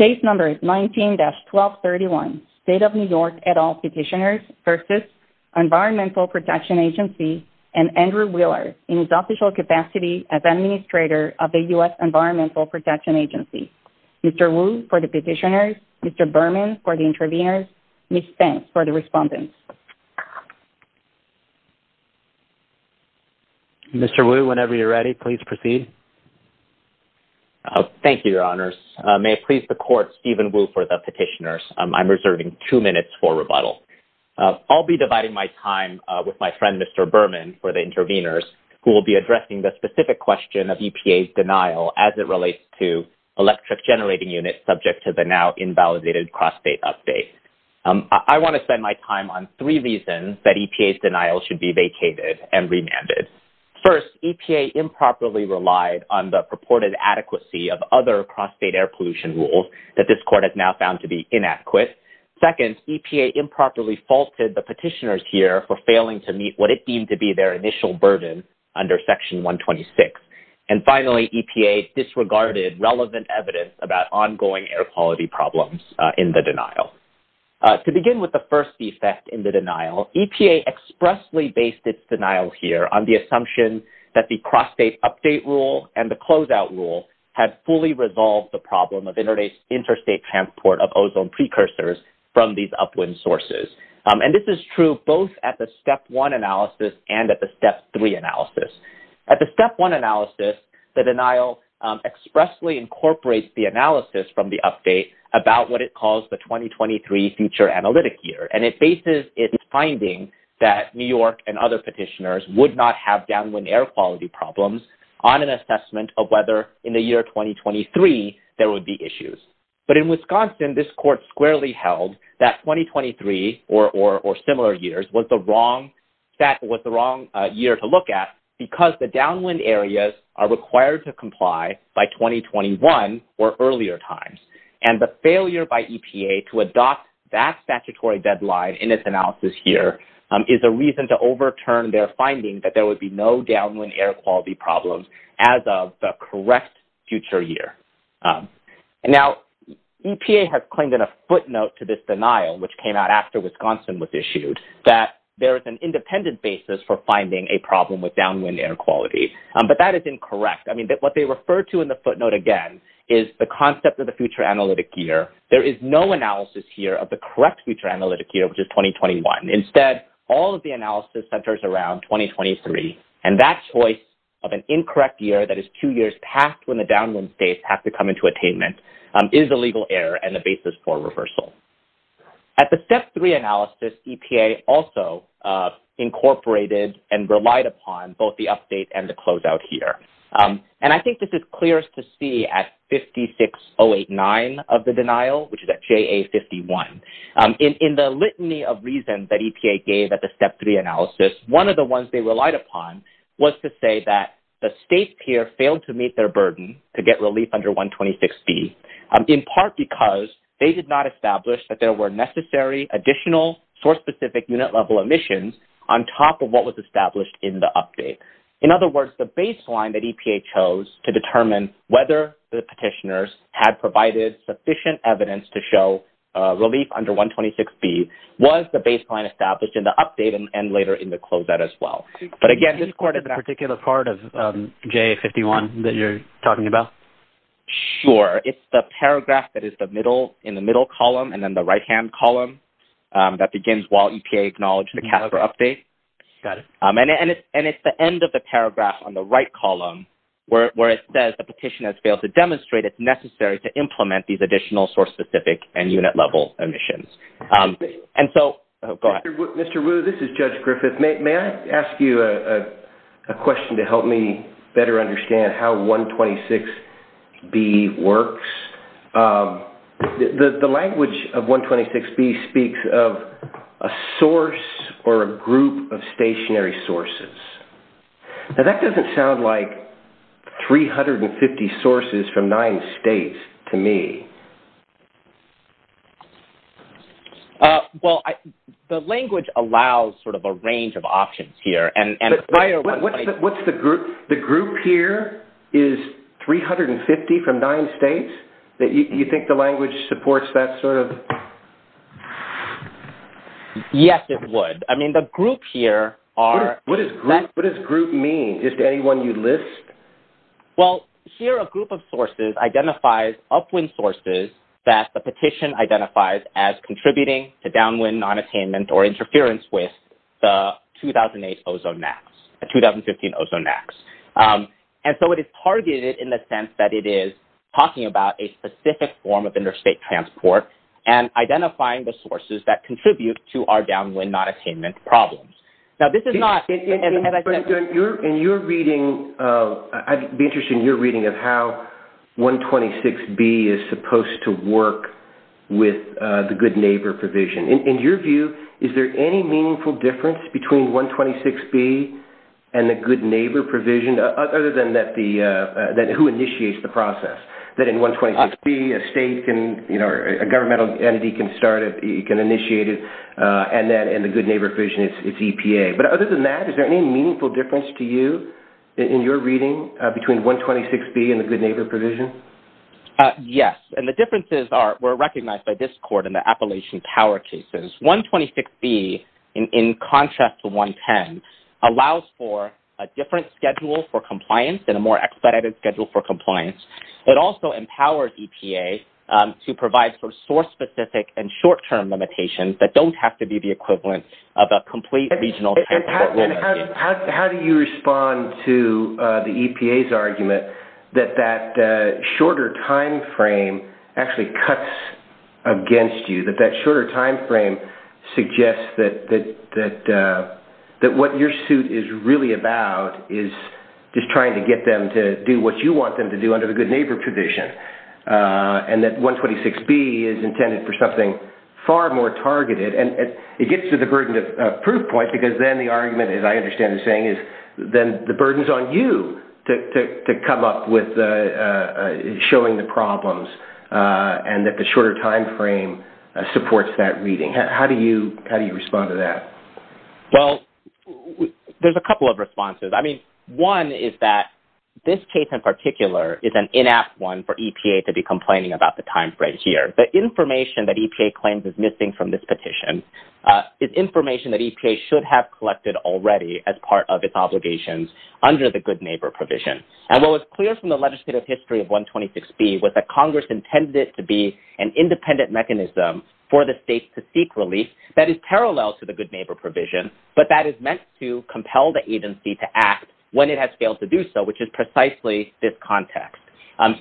19-1231, State of New York et al. Petitioners v. Environmental Protection Agency, and Andrew Wheeler, in his official capacity as Administrator of the U.S. Environmental Protection Agency. Mr. Wu for the Petitioners, Mr. Berman for the Interveners, Ms. Spence for the Respondents. Mr. Wu, whenever you're ready, please proceed. Thank you, Your Honors. May it please the Court, Stephen Wu for the Petitioners. I'm reserving two minutes for rebuttal. I'll be dividing my time with my friend Mr. Berman for the Interveners, who will be addressing the specific question of EPA's denial as it relates to electric generating units subject to the now-invalidated cross-state update. I want to spend my time on three reasons that EPA's denial should be vacated and remanded. First, EPA improperly relied on the purported adequacy of other cross-state air pollution rules that this Court has now found to be inadequate. Second, EPA improperly faulted the Petitioners here for failing to meet what it deemed to be their initial burden under Section 126. And finally, EPA disregarded relevant evidence about ongoing air quality problems in the denial. To begin with the first defect in the denial, EPA expressly based its denial here on the assumption that the cross-state update rule and the closeout rule had fully resolved the problem of interstate transport of ozone precursors from these upwind sources. And this is true both at the Step 1 analysis and at the Step 3 analysis. At the Step 1 analysis, the denial expressly incorporates the analysis from the update about what it calls the 2023 Future Analytic Year. And it bases its finding that New York and other Petitioners would not have downwind air quality problems on an assessment of whether in the year 2023 there would be issues. But in Wisconsin, this Court squarely held that 2023 or similar years was the wrong year to look at because the downwind areas are required to comply by 2021 or earlier times. And the failure by EPA to adopt that statutory deadline in its analysis here is a reason to overturn their finding that there would be no downwind air quality problems as of the correct future year. Now, EPA has claimed in a footnote to this denial, which came out after Wisconsin was finding a problem with downwind air quality. But that is incorrect. I mean, what they refer to in the footnote, again, is the concept of the Future Analytic Year. There is no analysis here of the correct Future Analytic Year, which is 2021. Instead, all of the analysis centers around 2023. And that choice of an incorrect year, that is two years past when the downwind states have to come into attainment, is a legal error and the basis for reversal. At the Step 3 analysis, EPA also incorporated and relied upon both the update and the closeout here. And I think this is clearest to see at 56089 of the denial, which is at JA51. In the litany of reasons that EPA gave at the Step 3 analysis, one of the ones they relied upon was to say that the state's peer failed to meet their burden to get relief under 126B, in part because they did not establish that there were necessary additional source-specific unit-level emissions on top of what was established in the update. In other words, the baseline that EPA chose to determine whether the petitioners had provided sufficient evidence to show relief under 126B was the baseline established in the update and later in the closeout as well. But again, this part of that... Sure. It's the paragraph that is in the middle column and then the right-hand column that begins while EPA acknowledged the CAFRA update. Got it. And it's the end of the paragraph on the right column where it says the petition has failed to demonstrate it's necessary to implement these additional source-specific and unit-level emissions. And so... Mr. Wu, this is Judge Griffith. May I ask you a question to help me better understand how 126B works? The language of 126B speaks of a source or a group of stationary sources. Now, that doesn't sound like 350 sources from nine states to me. Well, the language allows sort of a range of options here. And prior... What's the group? The group here is 350 from nine states? You think the language supports that sort of... Yes, it would. I mean, the group here are... What does group mean? Is it anyone you list? Well, here a group of sources identifies upwind sources that the petition identifies as contributing to downwind non-attainment or interference with the 2008 ozone acts, the 2015 ozone acts. And so it is targeted in the sense that it is talking about a specific form of interstate transport and identifying the sources that contribute to our downwind non-attainment problems. Now, this is not... And you're reading... It would be interesting in your reading of how 126B is supposed to be a good neighbor provision. In your view, is there any meaningful difference between 126B and the good neighbor provision, other than who initiates the process? That in 126B, a state can... A governmental entity can start it, it can initiate it, and then in the good neighbor provision, it's EPA. But other than that, is there any meaningful difference to you in your reading between 126B and the good neighbor provision? Yes. And the differences were recognized by this court in the Appalachian Power cases. 126B, in contrast to 110, allows for a different schedule for compliance and a more expedited schedule for compliance. It also empowers EPA to provide for source-specific and short-term limitations that don't have to be the equivalent of a complete regional... How do you respond to the EPA's argument that that shorter timeframe actually cuts against you, that that shorter timeframe suggests that what your suit is really about is just trying to get them to do what you want them to do under the good neighbor provision, and that 126B is intended for something far more targeted? And it gets to the burden of proof at some point, because then the argument, as I understand the saying, is then the burden is on you to come up with showing the problems, and that the shorter timeframe supports that reading. How do you respond to that? Well, there's a couple of responses. I mean, one is that this case in particular is an inact one for EPA to be complaining about the timeframe here. The information that EPA should have collected already as part of its obligations under the good neighbor provision. And what was clear from the legislative history of 126B was that Congress intended it to be an independent mechanism for the states to seek relief that is parallel to the good neighbor provision, but that is meant to compel the agency to act when it has failed to do so, which is precisely this context.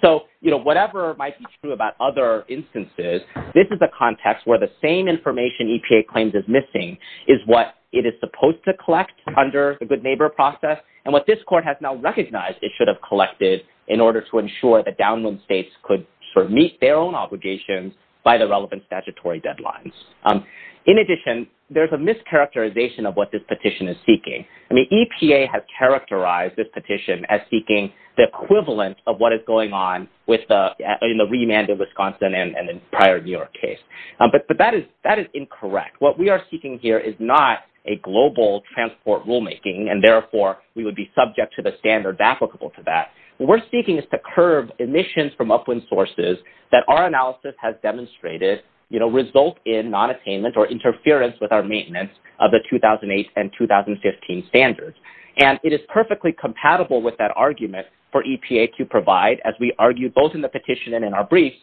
So, you know, whatever might be true about other instances, this is a context where the same information EPA claims is missing is what it is supposed to collect under the good neighbor process, and what this court has now recognized it should have collected in order to ensure that downwind states could meet their own obligations by the relevant statutory deadlines. In addition, there's a mischaracterization of what this petition is seeking. I mean, EPA has characterized this petition as seeking the equivalent of what is going on in the prior New York case. But that is incorrect. What we are seeking here is not a global transport rulemaking, and therefore we would be subject to the standards applicable to that. What we're seeking is to curve emissions from upwind sources that our analysis has demonstrated, you know, result in nonattainment or interference with our maintenance of the 2008 and 2015 standards. And it is perfectly compatible with that argument for EPA to provide, as we argue both in the petition and in our briefs,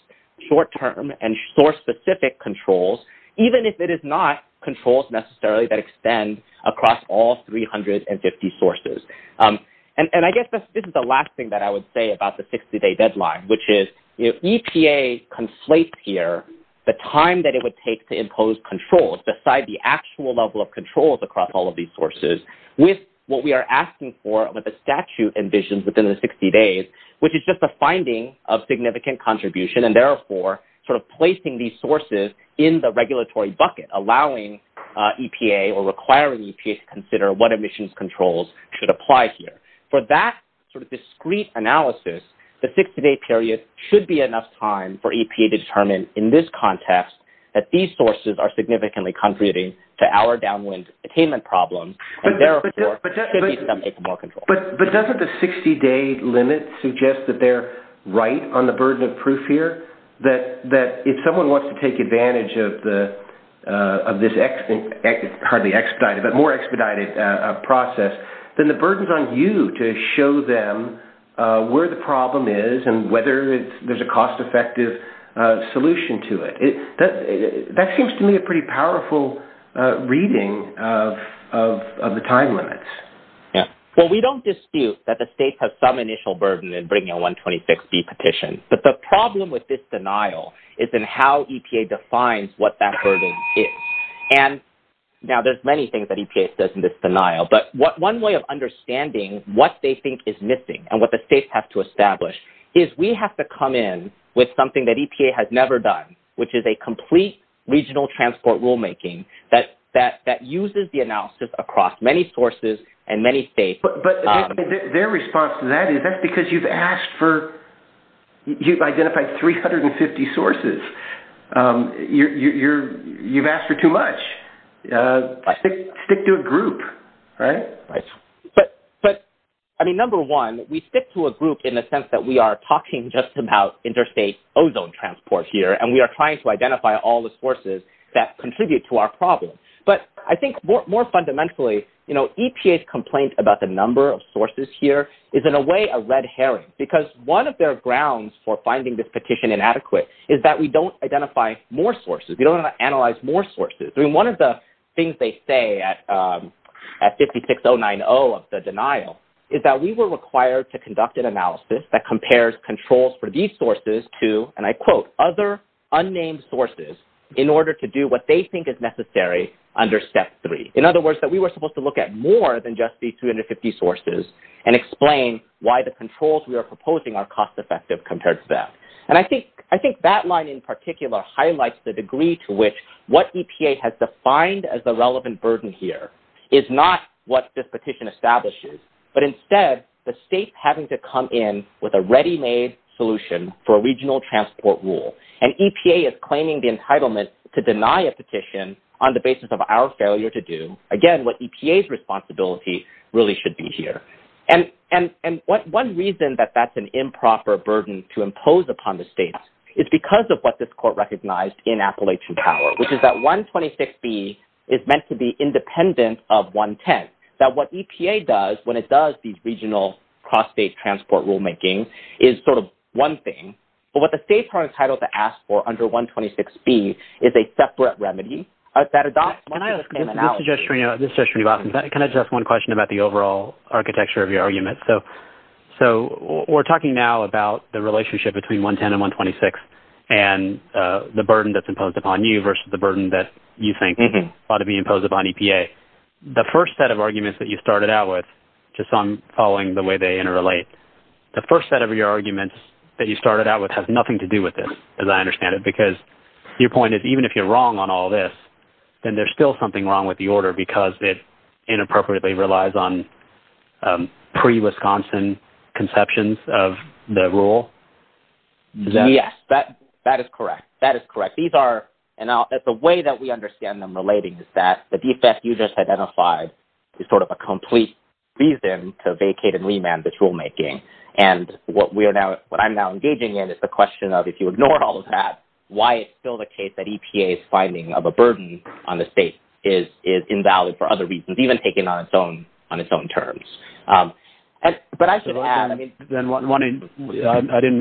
short-term and source-specific controls, even if it is not controls necessarily that extend across all 350 sources. And I guess this is the last thing that I would say about the 60-day deadline, which is if EPA conflates here the time that it would take to impose controls beside the actual level of controls across all of these sources with what we are asking for, what the statute envisions within the 60 days, which is just a finding of significant contribution, and therefore sort of placing these sources in the regulatory bucket, allowing EPA or requiring EPA to consider what emissions controls should apply here. For that sort of discrete analysis, the 60-day period should be enough time for EPA to determine in this context that these sources are significantly contributing to our downwind attainment problems, and therefore should be subject to more controls. But doesn't the 60-day limit suggest that they are right on the burden of proof here, that if someone wants to take advantage of this more expedited process, then the burden is on you to show them where the problem is and whether there is a cost-effective solution to it. That seems to me a pretty powerful reading of the time limits. Well, we don't dispute that the states have some initial burden in bringing a 126B petition, but the problem with this denial is in how EPA defines what that burden is. Now, there's many things that EPA says in this denial, but one way of understanding what they think is missing and what the states have to establish is we have to come in with something that EPA has never done, which is a complete regional transport rulemaking that uses the analysis across many sources and many states. But their response to that is that's because you've identified 350 sources. You've asked for too much. Stick to a group, right? Right. But, I mean, number one, we stick to a group in the sense that we are talking just about interstate ozone transport here, and we are trying to identify all the sources that contribute to our problem, but I think more fundamentally, you know, EPA's complaint about the number of sources here is in a way a red herring because one of their grounds for finding this petition inadequate is that we don't identify more sources. We don't analyze more sources. I mean, one of the things they say at 56090 of the denial is that we were required to conduct an analysis that compares controls for these sources to, and I quote, other unnamed sources in order to do what they think is necessary under step three. In other words, that we were supposed to look at more than just these 250 sources and explain why the controls we are proposing are cost effective compared to that. And I think that line in particular highlights the degree to which what EPA has defined as the relevant burden here is not what this petition establishes, but instead the states having to come in with a ready-made solution for a regional transport rule. And EPA is claiming the entitlement to deny a petition on the basis of our failure to do, again, what EPA's responsibility really should be here. And one reason that that's an improper burden to impose upon the states is because of what this court recognized in Appalachian Power, which is that 126B is meant to be independent of 110, that what EPA does when it does these regional cross-state transport rulemaking is sort of one thing. But what the state court entitled to ask for under 126B is a separate remedy that adopts when I was coming out. This is Jeff Shreve. This is Jeff Shreve. Can I just ask one question about the overall architecture of your argument? So we're talking now about the relationship between 110 and 126 and the burden that's imposed upon EPA. The first set of arguments that you started out with, just on following the way they interrelate, the first set of your arguments that you started out with has nothing to do with this, as I understand it, because your point is even if you're wrong on all this, then there's still something wrong with the order because it inappropriately relies on pre-Wisconsin conceptions of the rule? Yes, that is correct. That is correct. The way that we understand them relating is that the defect you just identified is sort of a complete reason to vacate and remand the rulemaking. And what I'm now engaging in is the question of if you ignore all of that, why it's still the case that EPA's finding of a burden on the state is invalid for other reasons, even taken on its own terms. I didn't mean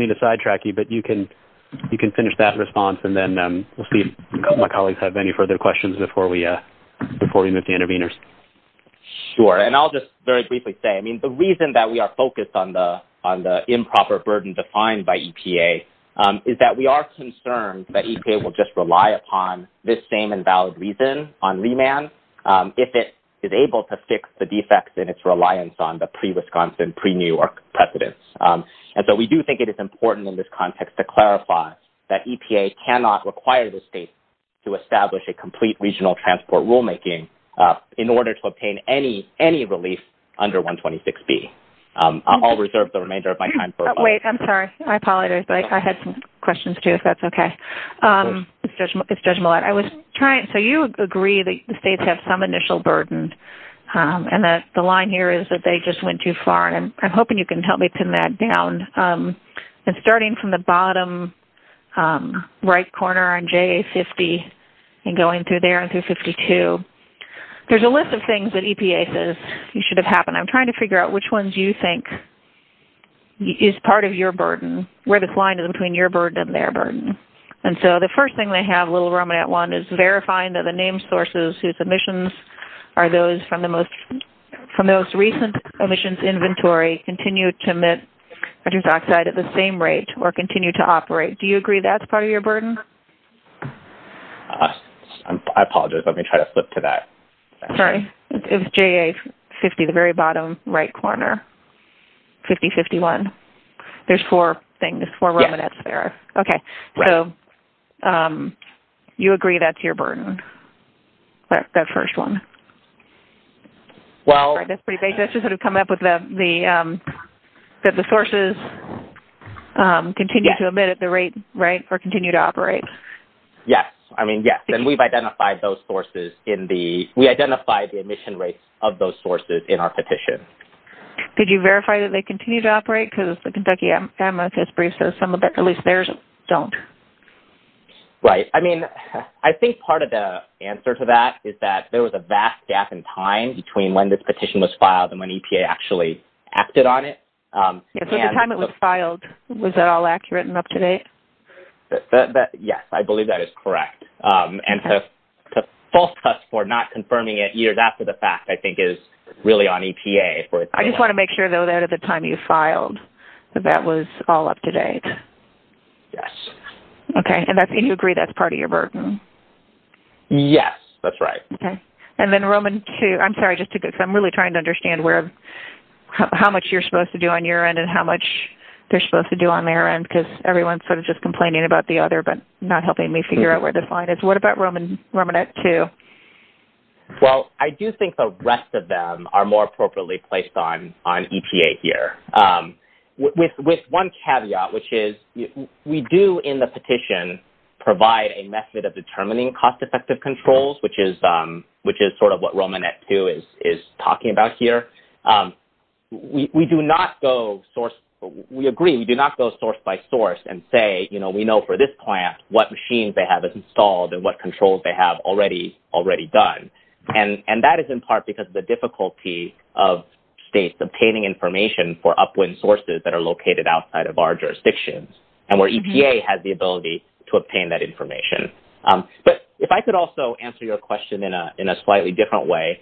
to sidetrack you, but you can finish that response and then we'll see if my colleagues have any further questions before we move to intervenors. Sure. And I'll just very briefly say, I mean, the reason that we are focused on the improper burden defined by EPA is that we are concerned that EPA will just rely upon this same invalid reason on remand if it is able to fix the defects in its reliance on the pre-Wisconsin, pre-New York precedents. And so we do think it is important in this context to clarify that EPA cannot require the state to establish a complete regional transport rulemaking in order to obtain any relief under 126B. I'll reserve the remainder of my time for a moment. Wait, I'm sorry. I apologize. I had some questions too, if that's okay. It's Judge Millett. So you agree that the states have some initial burden and that the line here is that they just went too far. And I'm hoping you can help me pin that down. Starting from the bottom right corner on JA-50 and going through there and through 52, there's a list of things that EPA says should have happened. I'm trying to figure out which ones you think is part of your burden, where this line is between your burden and their burden. And so the first thing they have, little ruminant one, is verifying that the name sources whose emissions are those from the most recent emissions inventory continue to emit nitrous oxide at the same rate or continue to operate. Do you agree that's part of your burden? I apologize. Let me try to flip to that. Sorry. It's JA-50, the very bottom right corner, 50-51. There's four things, four ruminants there. Okay. So you agree that's your burden, that first one. That's pretty big. That's just how to come up with the sources continue to emit at the rate or continue to operate. Yes. I mean, yes. And we've identified those sources in the... We identified the emission rates of those sources in our petition. Could you verify that they continue to operate? Because the Kentucky MFS brief says some of that, at least theirs, don't. Right. I mean, I think part of the answer to that is that there was a vast gap in time between when this petition was filed and when EPA actually acted on it. So the time it was filed, was that all accurate and up-to-date? Yes, I believe that is correct. And so the false test for not confirming it, either that or the fact, I think is really on EPA. I just want to make sure, though, that at the time you filed, that that was all up-to-date. Yes. Okay. And you agree that's part of your burden? Yes, that's right. Okay. And then Roman 2... I'm sorry, just because I'm really trying to understand how much you're supposed to do on your end and how much they're supposed to do on their end because everyone's sort of just complaining about the other but not helping me figure out where the fine is. What about ruminant 2? Well, I do think the rest of them are more appropriately placed on EPA here. With one caveat, which is we do in the petition provide a method of determining cost-effective controls, which is sort of what ruminant 2 is talking about here. We do not go source... We agree. We do not go source by source and say, you know, we know for this plant what machines they have installed and what controls they have already done. And that is in part because of the difficulty of states obtaining information for upwind sources that are located outside of our jurisdictions and where EPA has the ability to obtain that information. But if I could also answer your question in a slightly different way,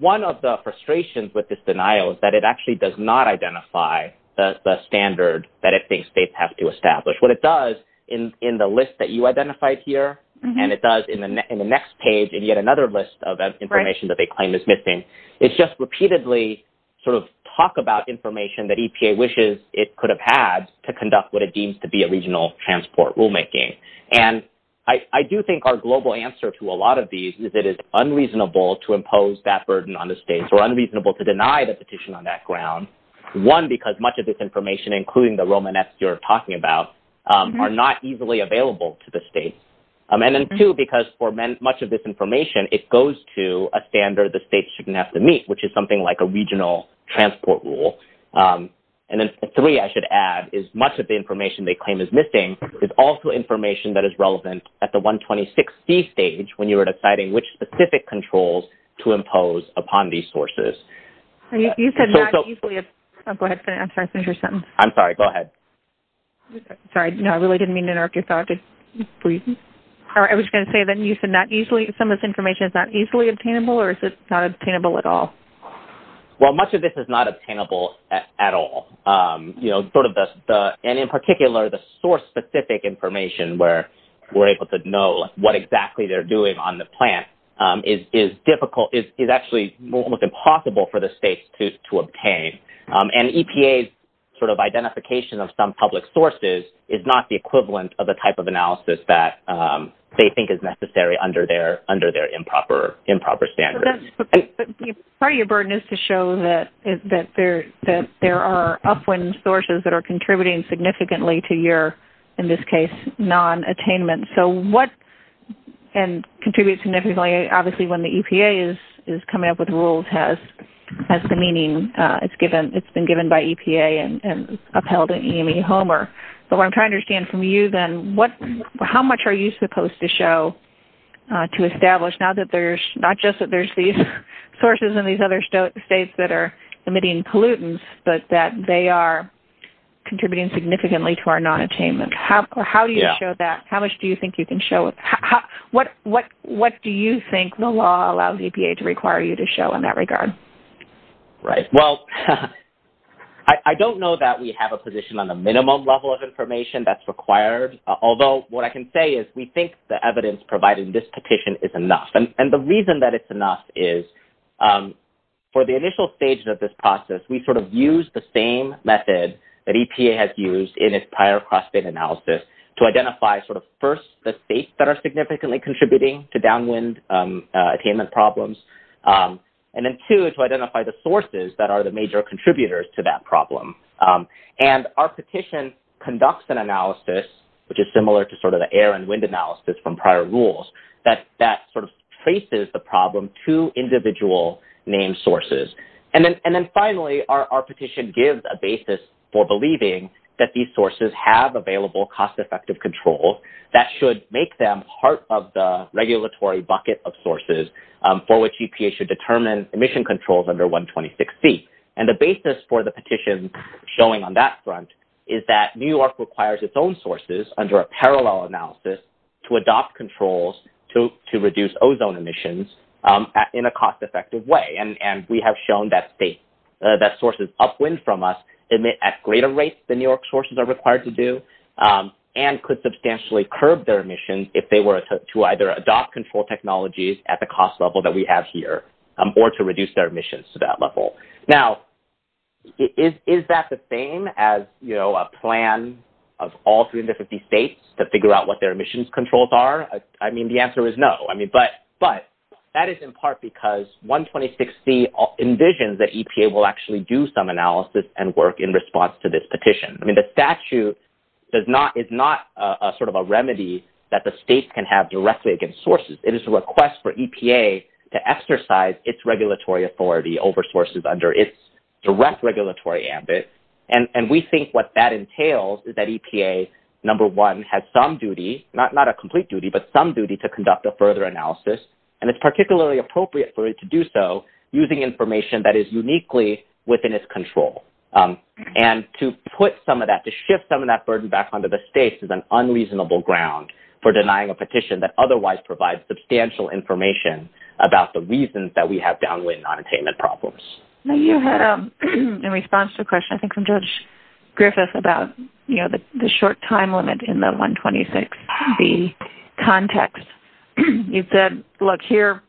one of the frustrations with this denial is that it actually does not identify the standard that it thinks states have to establish. What it does in the list that you identified here and it does in the next page and yet another list of information that they claim is missing, it's just repeatedly sort of talk about information that EPA wishes it could have had to conduct what it deems to be a regional transport rulemaking. And I do think our global answer to a lot of these is it is unreasonable to impose that burden on the states or unreasonable to deny the petition on that ground. One, because much of this information, including the Romanesque you're talking about, are not easily available to the states. And then two, because for much of this information, it goes to a standard the states shouldn't have to meet, which is something like a regional transport rule. And then three, I should add, is much of the information they claim is missing is also information that is relevant at the 126C stage when you are deciding which specific controls to impose upon these sources. You said not easily. Go ahead. I'm sorry. I finished your sentence. I'm sorry. Go ahead. Sorry. No, I really didn't mean to interrupt your thought. I was going to say that you said not easily. Some of this information is not easily obtainable or is it not obtainable at all? Well, much of this is not obtainable at all. And in particular, the source-specific information where we're able to know what exactly they're it's impossible for the states to obtain. And EPA's sort of identification of some public sources is not the equivalent of the type of analysis that they think is necessary under their improper standards. Part of your burden is to show that there are upwind sources that are contributing significantly to your, in this case, non-attainment. And contribute significantly, obviously, when the EPA is coming up with rules has the meaning it's been given by EPA and upheld at EME Homer. But what I'm trying to understand from you then, how much are you supposed to show to establish not just that there's these sources in these other states that are emitting pollutants, but that they are contributing significantly to our non-attainment? How do you show that? How much do you think you can show? What do you think the law allows EPA to require you to show in that regard? Right. Well, I don't know that we have a position on the minimum level of information that's required. Although, what I can say is we think the evidence provided in this petition is enough. And the reason that it's enough is for the initial stages of this process, we sort of used the same method that EPA has used in its prior cross-state analysis to identify sort of, first, the states that are significantly contributing to downwind attainment problems. And then, two, to identify the sources that are the major contributors to that problem. And our petition conducts an analysis, which is similar to sort of the air and wind analysis from prior rules, that sort of traces the problem to individual named sources. And then finally, our petition gives a basis for believing that these sources have available cost-effective controls that should make them part of the regulatory bucket of sources for which EPA should determine emission controls under 126C. And the basis for the petition showing on that front is that New York requires its own sources under a parallel analysis to adopt controls to reduce ozone emissions in a cost-effective way. And we have shown that sources upwind from us emit at greater rates than New York sources are required to do and could substantially curb their emissions if they were to either adopt control technologies at the cost level that we have here or to reduce their emissions to that level. Now, is that the same as, you know, a plan of all 350 states to figure out what their emissions controls are? I mean, the answer is no. I mean, but that is in part because 126C envisions that EPA will actually do some analysis and work in response to this petition. I mean, the statute is not sort of a remedy that the states can have directly against sources. It is a request for EPA to exercise its regulatory authority over sources under its direct regulatory ambit, and we think what that entails is that EPA, number one, has some duty, not a complete duty, but some duty to conduct a further analysis, and it's particularly appropriate for it to do so using information that is uniquely within its control. And to put some of that, to shift some of that burden back onto the states is an unreasonable ground for denying a petition that otherwise provides substantial information about the reasons that we have downwind nonattainment problems. You had a response to a question, I think, from Judge Griffiths about, you know, the short time limit in the 126B context. He said, look, here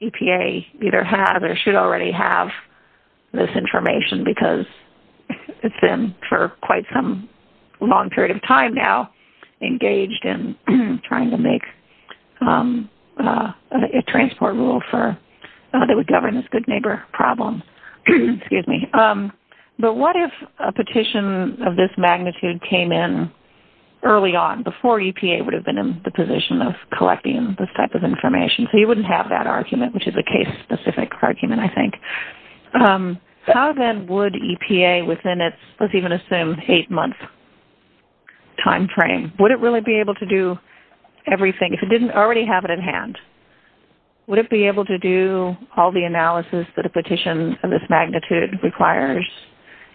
EPA either has or should already have this information because it's been for quite some long period of time now engaged in trying to make a transport rule that would govern this big neighbor problem. But what if a petition of this magnitude came in early on, before EPA would have been in the position of collecting this type of information? So you wouldn't have that argument, which is a case-specific argument, I think. How then would EPA within its, let's even assume, eight-month time frame, would it really be able to do everything? If it didn't already have it in hand, would it be able to do all the analysis that a petition of this magnitude requires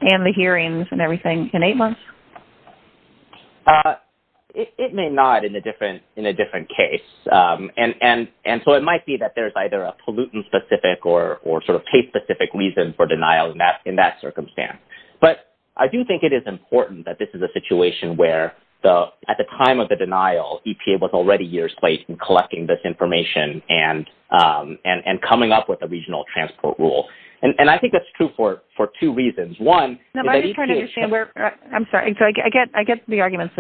and the hearings and everything in eight months? It may not in a different case. And so it might be that there's either a pollutant-specific or sort of case-specific reason for denial in that circumstance. But I do think it is important that this is a situation where at the time of the denial, EPA was already years late in collecting this information and coming up with a regional transport rule. And I think that's true for two reasons. One... No, I'm just trying to understand where... I'm sorry. So I get the arguments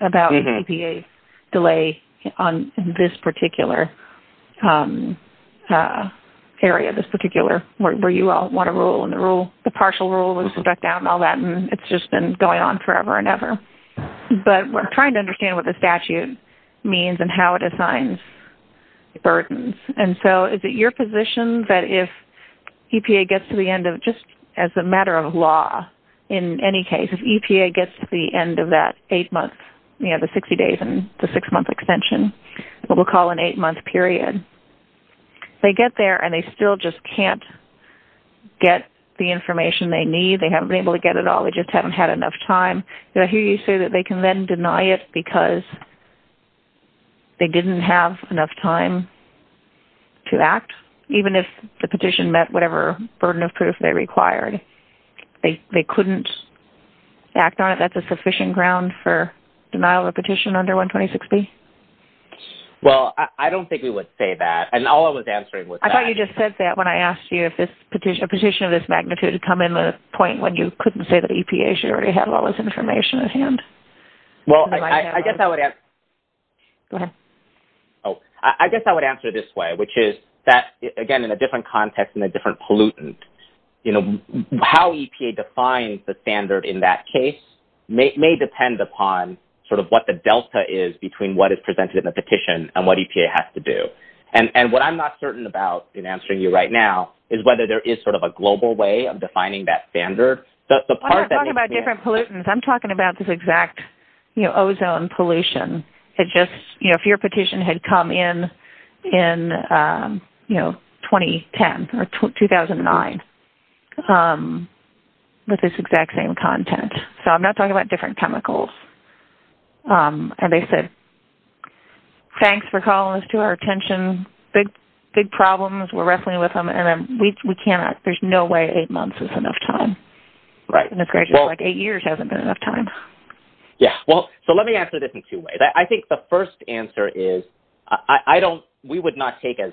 about EPA's delay on this particular area, this particular... where you all want a rule and the rule... the partial rule was brought down and all that, and it's just been going on forever and ever. But we're trying to understand what the statute means and how it assigns burdens. And so is it your position that if EPA gets to the end of... just as a matter of law, in any case, if EPA gets to the end of that eight-month... you know, the 60 days and the six-month extension, what we'll call an eight-month period, they get there and they still just can't get the information they need? They haven't been able to get it all. They just haven't had enough time. But I hear you say that they can then deny it because they didn't have enough time to act, even if the petition met whatever burden of proof they required. They couldn't act on it. That's a sufficient ground for denial of petition under 12060? Well, I don't think we would say that. And all I was answering was that... I thought you just said that when I asked you if a petition of this magnitude had come and then the point when you couldn't say that EPA should already have all this information at hand. Well, I guess I would answer... Go ahead. Oh, I guess I would answer this way, which is that, again, in a different context and a different pollutant, you know, how EPA defines the standard in that case may depend upon sort of what the delta is between what is presented in the petition and what EPA has to do. And what I'm not certain about in answering you right now is whether there is sort of a global way of defining that standard. I'm not talking about different pollutants. I'm talking about this exact, you know, ozone pollution that just, you know, if your petition had come in, you know, 2010 or 2009 with this exact same content. So I'm not talking about different chemicals. And they said, thanks for calling us to our attention. Big problems. We're wrestling with them. There's no way eight months is enough time. Eight years hasn't been enough time. Yeah, well, so let me answer this in two ways. I think the first answer is we would not take as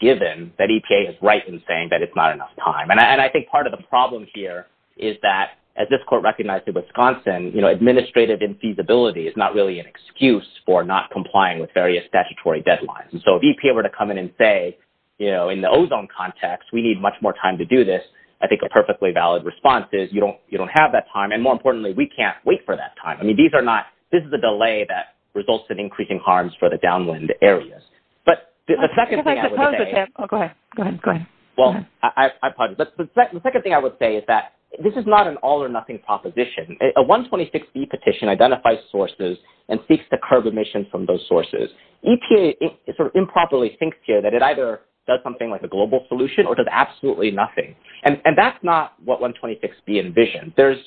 given that EPA is right in saying that it's not enough time. And I think part of the problem here is that, as this court recognized in Wisconsin, you know, administrative infeasibility is not really an excuse for not complying with various statutory deadlines. And so if EPA were to come in and say, you know, in the ozone context, we need much more time to do this, I think a perfectly valid response is, you don't have that time. And more importantly, we can't wait for that time. I mean, these are not – this is a delay that results in increasing harms for the downwind areas. But the second thing I would say – Oh, go ahead. Go ahead. Well, I apologize. But the second thing I would say is that this is not an all or nothing proposition. A 126B petition identifies sources and seeks to curb emissions from those sources. EPA sort of improperly thinks here that it either does something like a global solution or does absolutely nothing. And that's not what 126B envisioned. There's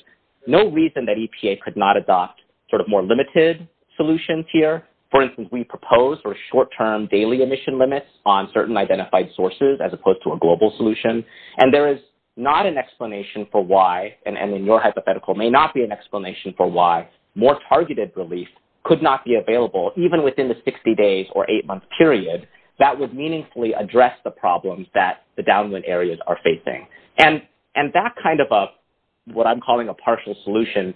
no reason that EPA could not adopt sort of more limited solutions here. For instance, we propose short-term daily emission limits on certain identified sources as opposed to a global solution. And there is not an explanation for why, and in your hypothetical, may not be an explanation for why more targeted relief could not be available even within the 60 days or eight-month period that would meaningfully address the problems that the downwind areas are facing. And that kind of what I'm calling a partial solution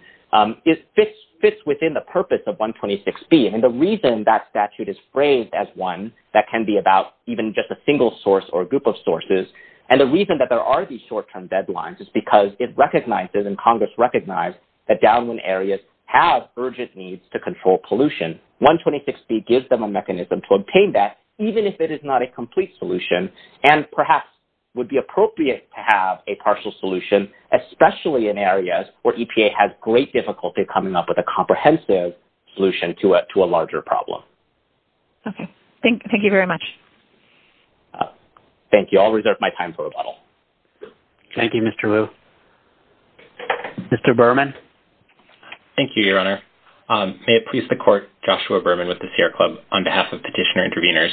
fits within the purpose of 126B. And the reason that statute is phrased as one that can be about even just a single source or a group of sources, and the reason that there are these short-term deadlines is because it recognizes and Congress recognizes that downwind areas have urgent needs to control pollution. 126B gives them a mechanism to obtain that even if it is not a complete solution and perhaps would be appropriate to have a partial solution, especially in areas where EPA has great difficulty coming up with a comprehensive solution to a larger problem. Okay. Thank you very much. Thank you. I'll reserve my time for rebuttal. Thank you, Mr. Liu. Mr. Berman? Thank you, Your Honor. May it please the Court, Joshua Berman with the Sierra Club, on behalf of Petitioner Interveners.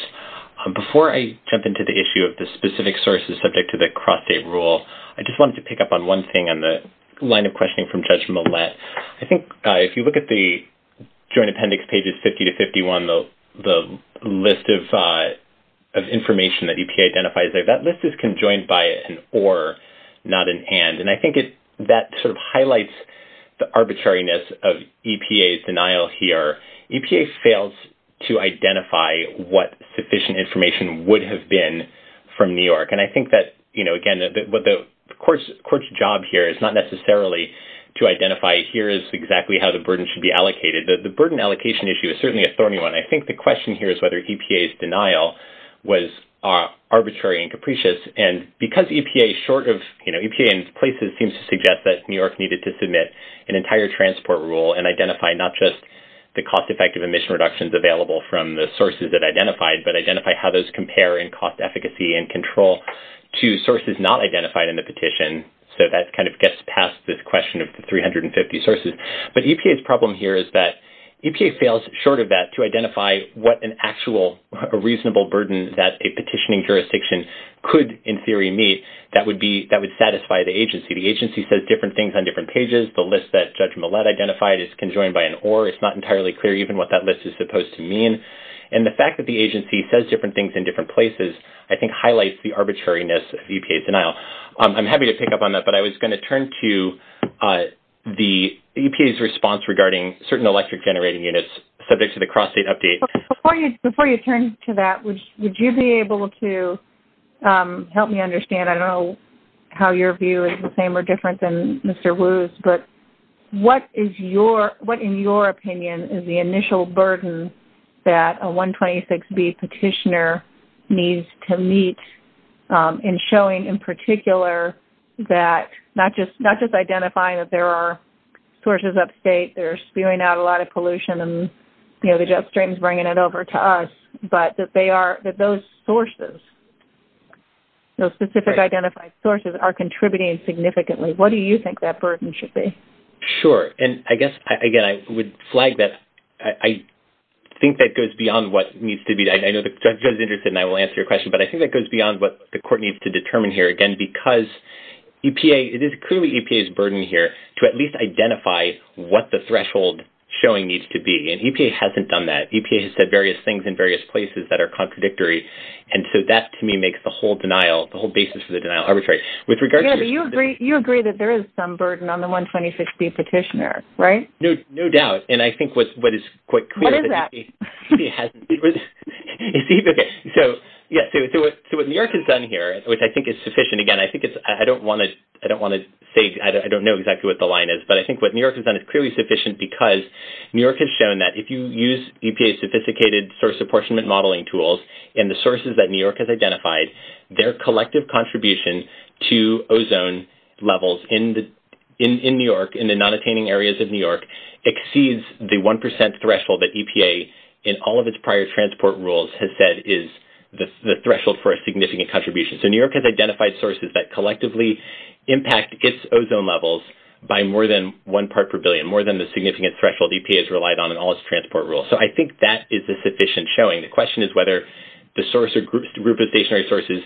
Before I jump into the issue of the specific sources subject to the cross-state rule, I just wanted to pick up on one thing on the line of questioning from Judge Millett. I think if you look at the Joint Appendix pages 50 to 51, the list of information that EPA identifies, that list is conjoined by an or, not in hand. And I think that sort of highlights the arbitrariness of EPA's denial here. EPA fails to identify what sufficient information would have been from New York. And I think that, again, the Court's job here is not necessarily to identify, here is exactly how the burden should be allocated. The burden allocation issue is certainly a thorny one. I think the question here is whether EPA's denial was arbitrary and capricious. And because EPA is short of, you know, EPA in places seems to suggest that New York needed to submit an entire transport rule and identify not just the cost-effective emission reductions available from the sources it identified, but identify how those compare in cost efficacy and control to sources not identified in the petition. So that kind of gets past this question of the 350 sources. But EPA's problem here is that EPA fails, short of that, to identify what an actual reasonable burden that a petitioning jurisdiction could in theory meet that would satisfy the agency. The agency says different things on different pages. The list that Judge Millett identified is conjoined by an or. It's not entirely clear even what that list is supposed to mean. And the fact that the agency says different things in different places, I think, highlights the arbitrariness of EPA's denial. I'm happy to pick up on that, but I was going to turn to the EPA's response regarding certain electric generating units subject to the cross-state update. Before you turn to that, would you be able to help me understand? I don't know how your view is the same or different than Mr. Wu's, but what in your opinion is the initial burden that a 126B petitioner needs to meet in showing in particular that not just identifying that there are sources upstate that are spewing out a lot of pollution and the jet stream is bringing it over to us, but that those sources, those specific identified sources, are contributing significantly. What do you think that burden should be? Sure. And I guess, again, I would flag that I think that goes beyond what needs to be. I know the judge is interested and I will answer your question, but I think that goes beyond what the court needs to determine here, again, because it is clearly EPA's burden here to at least identify what the threshold showing needs to be, and EPA hasn't done that. EPA has said various things in various places that are contradictory, and so that to me makes the whole denial, the whole basis of the denial arbitrary. Yeah, but you agree that there is some burden on the 126B petitioner, right? No doubt, and I think what is quite clear is that EPA hasn't. What is that? I don't want to say, I don't know exactly what the line is, but I think what New York has done is clearly sufficient because New York has shown that if you use EPA's sophisticated source apportionment modeling tools and the sources that New York has identified, their collective contribution to ozone levels in New York, in the non-attaining areas of New York, exceeds the 1% threshold that EPA, in all of its prior transport rules, has said is the threshold for a significant contribution. So New York has identified sources that collectively impact its ozone levels by more than one part per billion, more than the significant threshold EPA has relied on in all its transport rules. So I think that is a sufficient showing. The question is whether the source or group of stationary sources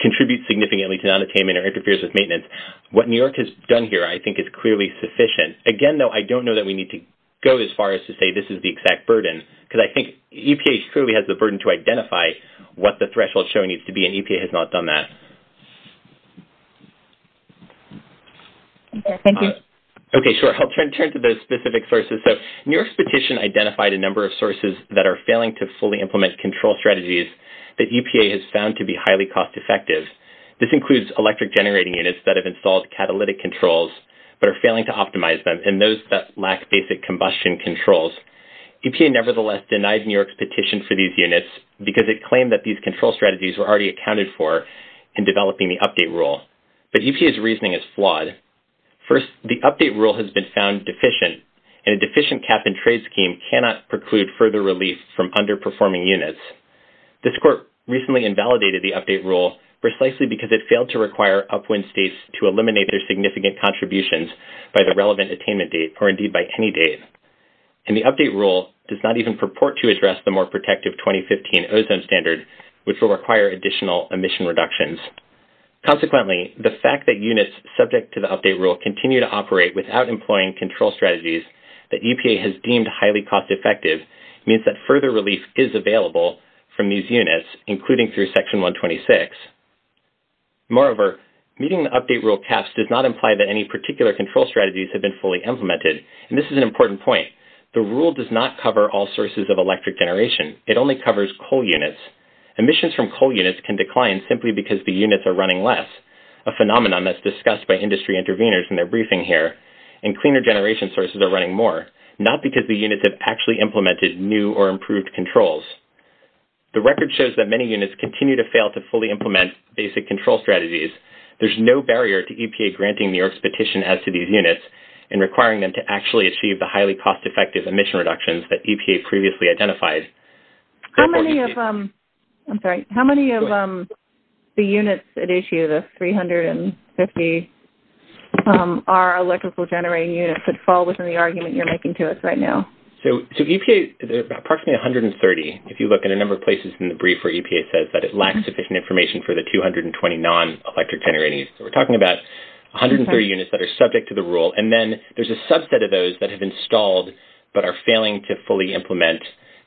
contributes significantly to non-attainment or interferes with maintenance. What New York has done here, I think, is clearly sufficient. Again, though, I don't know that we need to go as far as to say this is the exact burden, because I think EPA truly has the burden to identify what the threshold showing needs to be, and EPA has not done that. Okay, thank you. Okay, sure. I'll turn to those specific sources. So New York's petition identified a number of sources that are failing to fully implement control strategies that EPA has found to be highly cost-effective. This includes electric generating units that have installed catalytic controls but are failing to optimize them, and those that lack basic combustion controls. EPA, nevertheless, denied New York's petition for these units because it claimed that these control strategies were already accounted for in developing the update rule. But EPA's reasoning is flawed. First, the update rule has been found deficient, and a deficient cap-and-trade scheme cannot preclude further relief from underperforming units. This court recently invalidated the update rule precisely because it failed to require upwind states to eliminate their significant contributions by the relevant attainment date, or indeed by any date. And the update rule does not even purport to address the more protective 2015 ozone standard, which will require additional emission reductions. Consequently, the fact that units subject to the update rule continue to operate without employing control strategies that EPA has deemed highly cost-effective means that further relief is available from these units, including through Section 126. Moreover, meeting the update rule caps does not imply that any particular control strategies have been fully implemented, and this is an important point. The rule does not cover all sources of electric generation. It only covers coal units. Emissions from coal units can decline simply because the units are running less, a phenomenon that's discussed by industry interveners in their briefing here, and cleaner generation sources are running more, not because the units have actually implemented new or improved controls. The record shows that many units continue to fail to fully implement basic control strategies. There's no barrier to EPA granting the expectation as to these units and requiring them to actually achieve the highly cost-effective emission reductions that EPA previously identified. How many of the units at issue, the 350, are electrical generating units that fall within the argument you're making to us right now? So EPA, there are approximately 130. If you look at a number of places in the brief where EPA says that it lacks sufficient information for the 220 non-electric generating units. So we're talking about 130 units that are subject to the rule, and then there's a subset of those that have installed but are failing to fully implement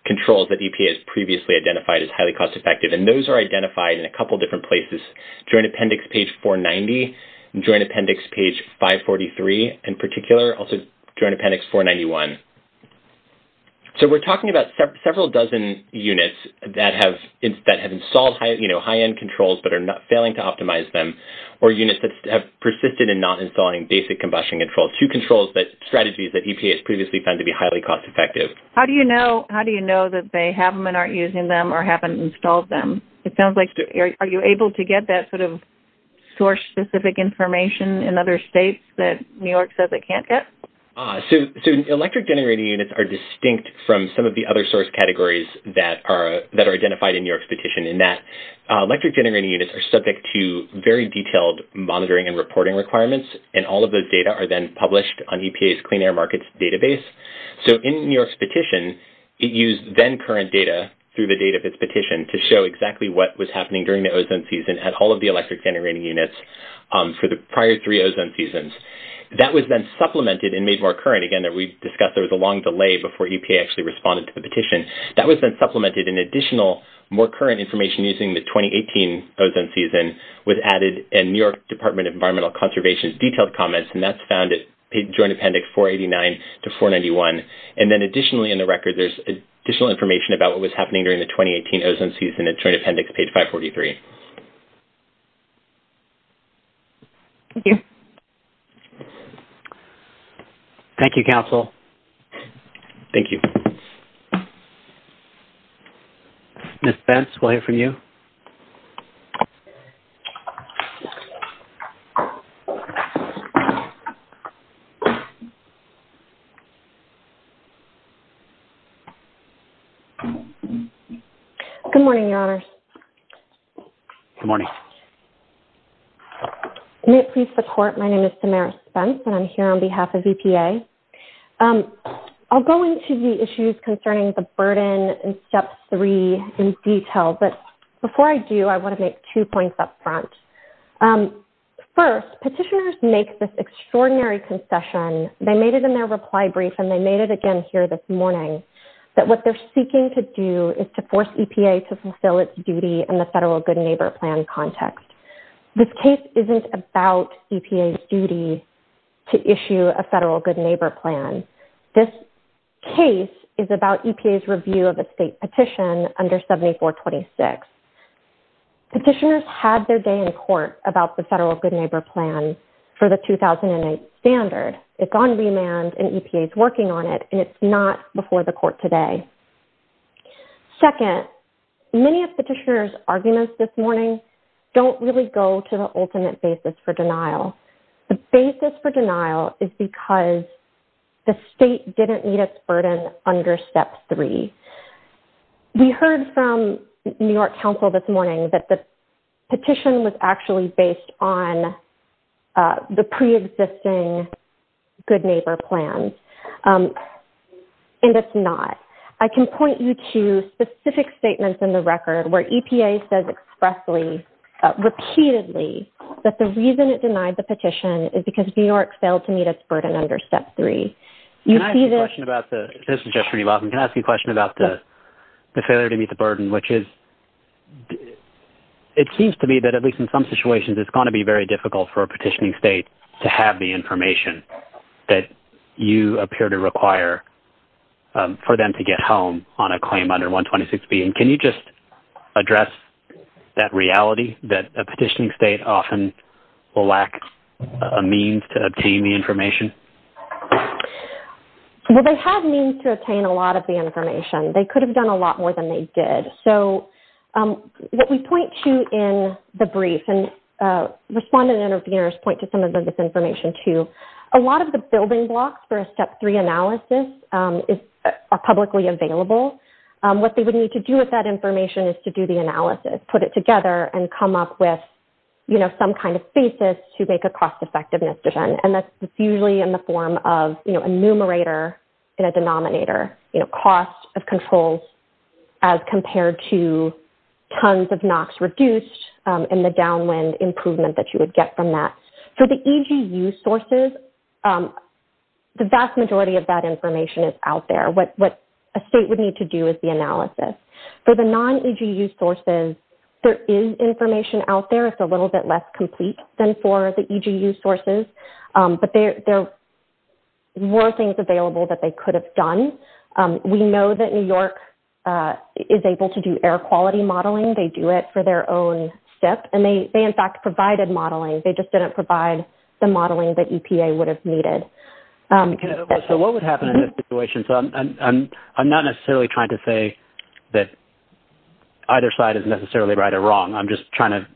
controls that EPA has previously identified as highly cost-effective, and those are identified in a couple different places, Joint Appendix page 490, Joint Appendix page 543 in particular, also Joint Appendix 491. So we're talking about several dozen units that have installed high-end controls but are failing to optimize them, or units that have persisted in not installing basic combustion controls, two strategies that EPA has previously found to be highly cost-effective. How do you know that they have them and aren't using them or haven't installed them? It sounds like are you able to get that sort of source-specific information in other states that New York says it can't get? So electric generating units are distinct from some of the other source categories that are identified in your expectation in that electric generating units are subject to very detailed monitoring and reporting requirements, and all of those data are then published on EPA's Clean Air Markets database. So in New York's petition, it used then-current data through the date of its petition to show exactly what was happening during the ozone season at all of the electric generating units for the prior three ozone seasons. That was then supplemented and made more current. Again, we discussed there was a long delay before EPA actually responded to the petition. That was then supplemented in additional, more current information using the 2018 ozone season was added in New York Department of Environmental Conservation's detailed comments, and that's found in Joint Appendix 489 to 491. And then additionally in the record, there's additional information about what was happening during the 2018 ozone season in Joint Appendix page 543. Thank you. Thank you, Council. Thank you. Ms. Spence, we'll hear from you. Good morning, Your Honors. Good morning. May it please the Court, my name is Tamara Spence, and I'm here on behalf of EPA. I'll go into the issues concerning the burden in Step 3 in detail, but before I do, I want to make two points up front. First, petitioners make this extraordinary concession. They made it in their reply brief, and they made it again here this morning, that what they're seeking to do is to force EPA to fulfill its duty in the federal good neighbor plan context. This case isn't about EPA's duty to issue a federal good neighbor plan. This case is about EPA's review of a state petition under 7426. Petitioners had their day in court about the federal good neighbor plan for the 2008 standard. It's on remand, and EPA's working on it, and it's not before the Court today. Second, many of petitioners' arguments this morning don't really go to the ultimate basis for denial. The basis for denial is because the state didn't meet its burden under Step 3. We heard from New York Council this morning that the petition was actually based on the preexisting good neighbor plan, and it's not. I can point you to specific statements in the record where EPA says expressly, repeatedly, that the reason it denied the petition is because New York failed to meet its burden under Step 3. Can I ask a question about the failure to meet the burden, which is it seems to me that, at least in some situations, it's going to be very difficult for a petitioning state to have the information that you appear to require for them to get home on a claim under 126B. Can you just address that reality that a petitioning state often will lack a means to obtain the information? Well, they have means to obtain a lot of the information. They could have done a lot more than they did. So, what we point to in the brief, and respondent interveners point to some of this information, too, a lot of the building blocks for a Step 3 analysis are publicly available. What they would need to do with that information is to do the analysis, put it together, and come up with, you know, some kind of basis to make a cost-effectiveness decision, and that's usually in the form of, you know, a numerator and a denominator, you know, cost of controls as compared to tons of NOx reduced and the downwind improvement that you would get from that. For the EGU sources, the vast majority of that information is out there. What a state would need to do is the analysis. For the non-EGU sources, there is information out there. It's a little bit less complete than for the EGU sources, but there were things available that they could have done. We know that New York is able to do air quality modeling. They do it for their own SIP, and they, in fact, provided modeling. They just didn't provide the modeling that EPA would have needed. So what would happen in this situation? I'm not necessarily trying to say that either side is necessarily right or wrong. I'm just trying to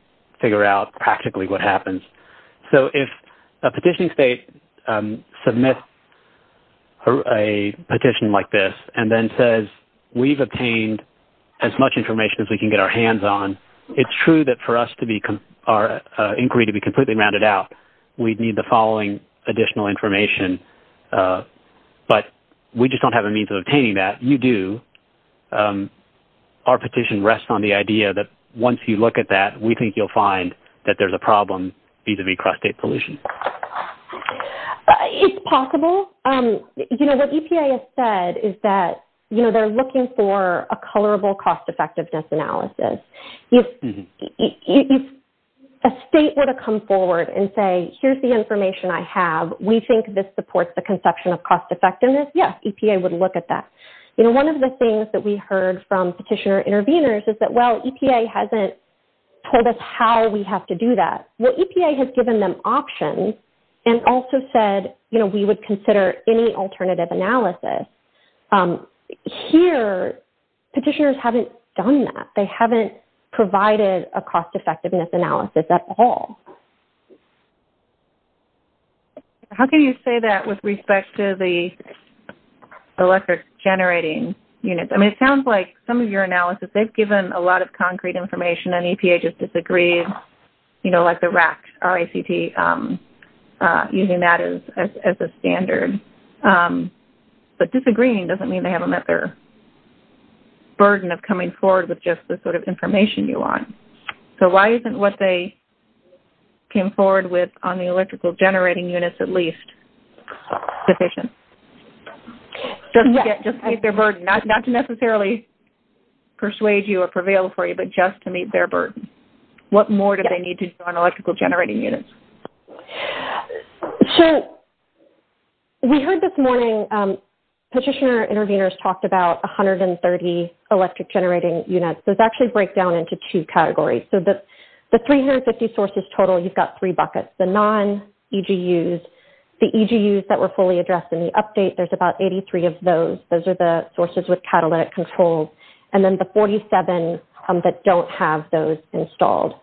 figure out practically what happens. So if a petition state submits a petition like this and then says, we've obtained as much information as we can get our hands on, it's true that for our inquiry to be completely rounded out, we'd need the following additional information, but we just don't have the means of obtaining that. You do. Our petition rests on the idea that once you look at that, we think you'll find that there's a problem vis-à-vis cross-state pollution. It's possible. What EPA has said is that they're looking for a colorable cost-effectiveness analysis. If a state were to come forward and say, here's the information I have. We think this supports the conception of cost-effectiveness. Yes, EPA would look at that. One of the things that we heard from petitioner interveners is that, well, EPA hasn't told us how we have to do that. Well, EPA has given them options and also said, you know, we would consider any alternative analysis. Here, petitioners haven't done that. They haven't provided a cost-effectiveness analysis at all. How can you say that with respect to the electric generating units? I mean, it sounds like some of your analysis, they've given a lot of concrete information, and then EPA just disagrees, you know, like the RACT, R-A-C-T, using that as a standard. But disagreeing doesn't mean they haven't met their burden of coming forward with just the sort of information you want. So why isn't what they came forward with on the electrical generating units at least sufficient? Just to meet their burden. Not to necessarily persuade you or prevail for you, but just to meet their burden. What more do they need to do on electrical generating units? We heard this morning, petitioner interveners talked about 130 electric generating units. This actually breaks down into two categories. So the 350 sources total, you've got three buckets. The non-EGUs, the EGUs that were fully addressed in the update, there's about 83 of those. Those are the sources with catalytic controls. And then the 47 that don't have those installed.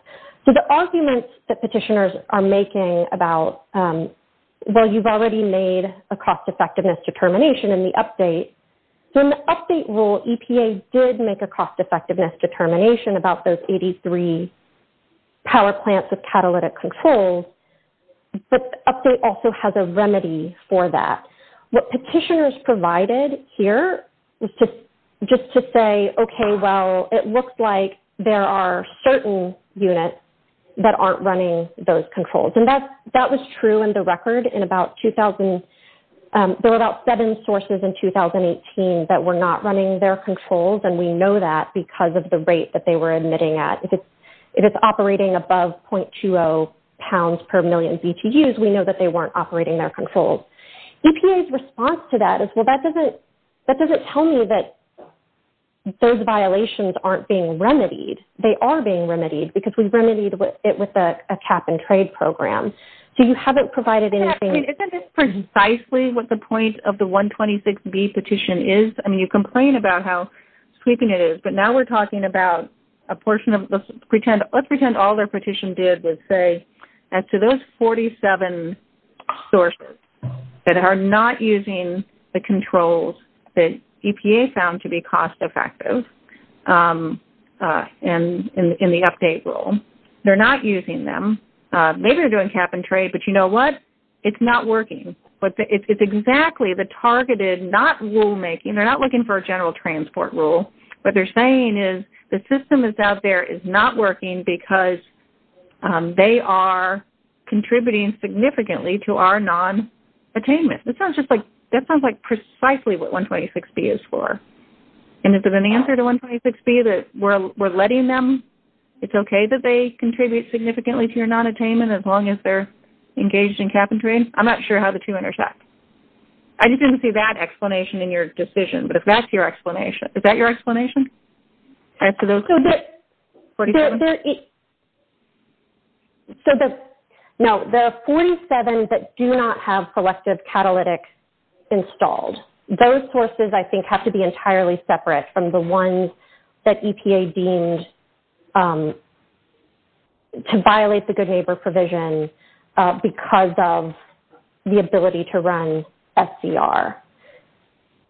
So the arguments that petitioners are making about, well, you've already made a cost-effectiveness determination in the update. So in the update rule, EPA did make a cost-effectiveness determination about those 83 power plants with catalytic controls. But the update also has a remedy for that. What petitioners provided here was just to say, okay, well, it looks like there are certain units that aren't running those controls. And that was true in the record. There were about seven sources in 2018 that were not running their controls. And we know that because of the rate that they were admitting at. If it's operating above 0.20 pounds per million BTUs, we know that they weren't operating their controls. EPA's response to that is, well, that doesn't tell me that those violations aren't being remedied. They are being remedied because we've remedied it with a cap-and-trade program. So you haven't provided anything. Isn't this precisely what the point of the 126B petition is? I mean, you complain about how sweeping it is. But now we're talking about a portion of this. Let's pretend all the petition did was say, as to those 47 sources that are not using the controls that EPA found to be cost-effective in the update rule, they're not using them. Maybe they're doing cap-and-trade, but you know what? It's not working. But it's exactly the targeted, not rulemaking. They're not looking for a general transport rule. What they're saying is the system that's out there is not working because they are contributing significantly to our non-attainment. That sounds like precisely what 126B is for. And is it an answer to 126B that we're letting them? It's okay that they contribute significantly to your non-attainment as long as they're engaged in cap-and-trade? I'm not sure how the two intersect. I just didn't see that explanation in your decision. But if that's your explanation. Is that your explanation? So the 47 that do not have selective catalytics installed, those sources, I think, have to be entirely separate from the ones that EPA deemed to violate the good neighbor provision because of the ability to run SDR.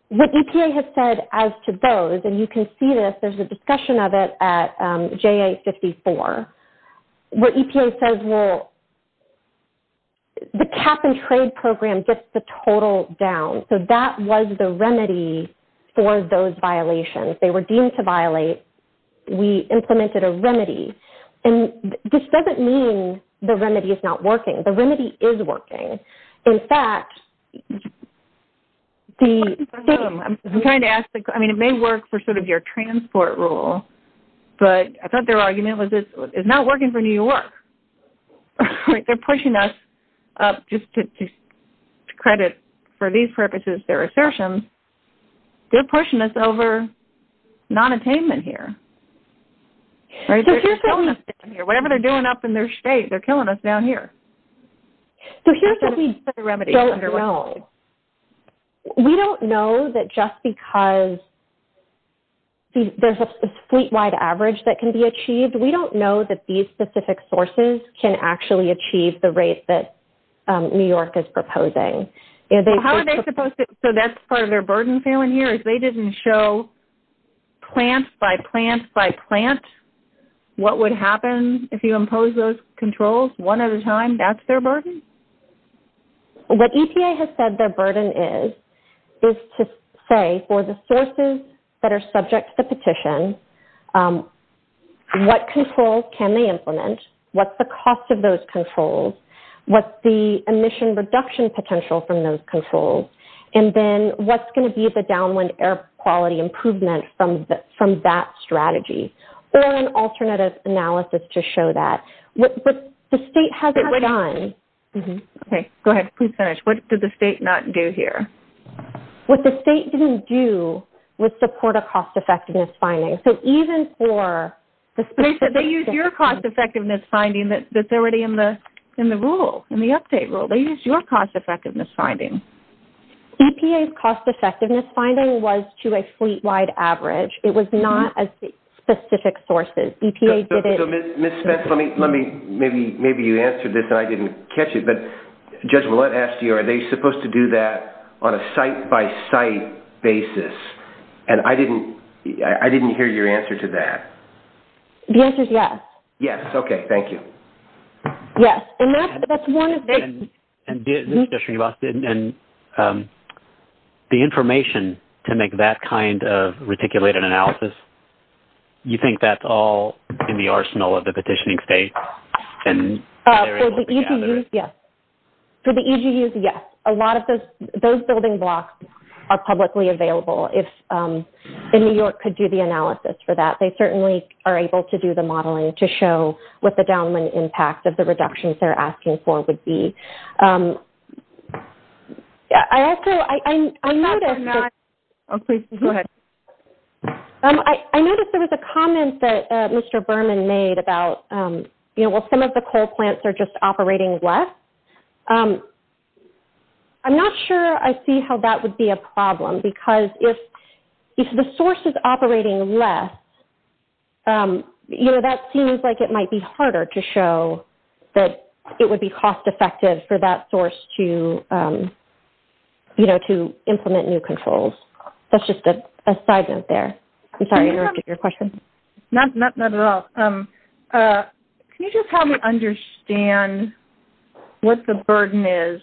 What EPA has said as to those, and you can see this, there's a discussion of it at JA-54, where EPA says, well, the cap-and-trade program gets the total down. So that was the remedy for those violations. They were deemed to violate. We implemented a remedy. And this doesn't mean the remedy is not working. The remedy is working. I'm trying to ask, I mean, it may work for sort of your transport rule, but I thought their argument was it's not working for New York. They're pushing us up just to credit for these purposes their assertions. They're pushing us over non-attainment here. Whatever they're doing up in their state, they're killing us down here. So here's what we don't know. We don't know that just because there's a fleet-wide average that can be achieved, we don't know that these specific sources can actually achieve the rate that New York is proposing. So that's part of their burden failing here, is they didn't show plant by plant by plant what would happen if you impose those controls one at a time? That's their burden? What EPA has said their burden is, is to say for the sources that are subject to the petition, what controls can they implement? What's the cost of those controls? What's the emission reduction potential from those controls? And then what's going to be the downwind air quality improvement from that strategy? Or an alternative analysis to show that. But the state hasn't done. Okay, go ahead. Please finish. What did the state not do here? What the state didn't do was support a cost-effectiveness finding. So even for the specific. They said they used your cost-effectiveness finding that's already in the rule, in the update rule. They used your cost-effectiveness finding. EPA's cost-effectiveness finding was to a fleet-wide average. It was not as specific sources. Ms. Spence, let me, maybe you answered this and I didn't catch it. But Judge Millett asked you, are they supposed to do that on a site-by-site basis? And I didn't hear your answer to that. The answer is yes. Yes, okay. Thank you. Yes. And the information to make that kind of reticulated analysis, you think that's all in the arsenal of the petitioning state? For the EGU, yes. For the EGU, yes. A lot of those building blocks are publicly available. If New York could do the analysis for that, they certainly are able to do the modeling to show what the downland impact of the reductions they're asking for would be. I noticed there was a comment that Mr. Berman made about, you know, well, some of the core plants are just operating less. I'm not sure I see how that would be a problem, because if the source is operating less, you know, that seems like it might be harder to show that it would be cost-effective for that source to, you know, to implement new controls. That's just a side note there. I'm sorry, I interrupted your question. Not at all. Can you just help me understand what the burden is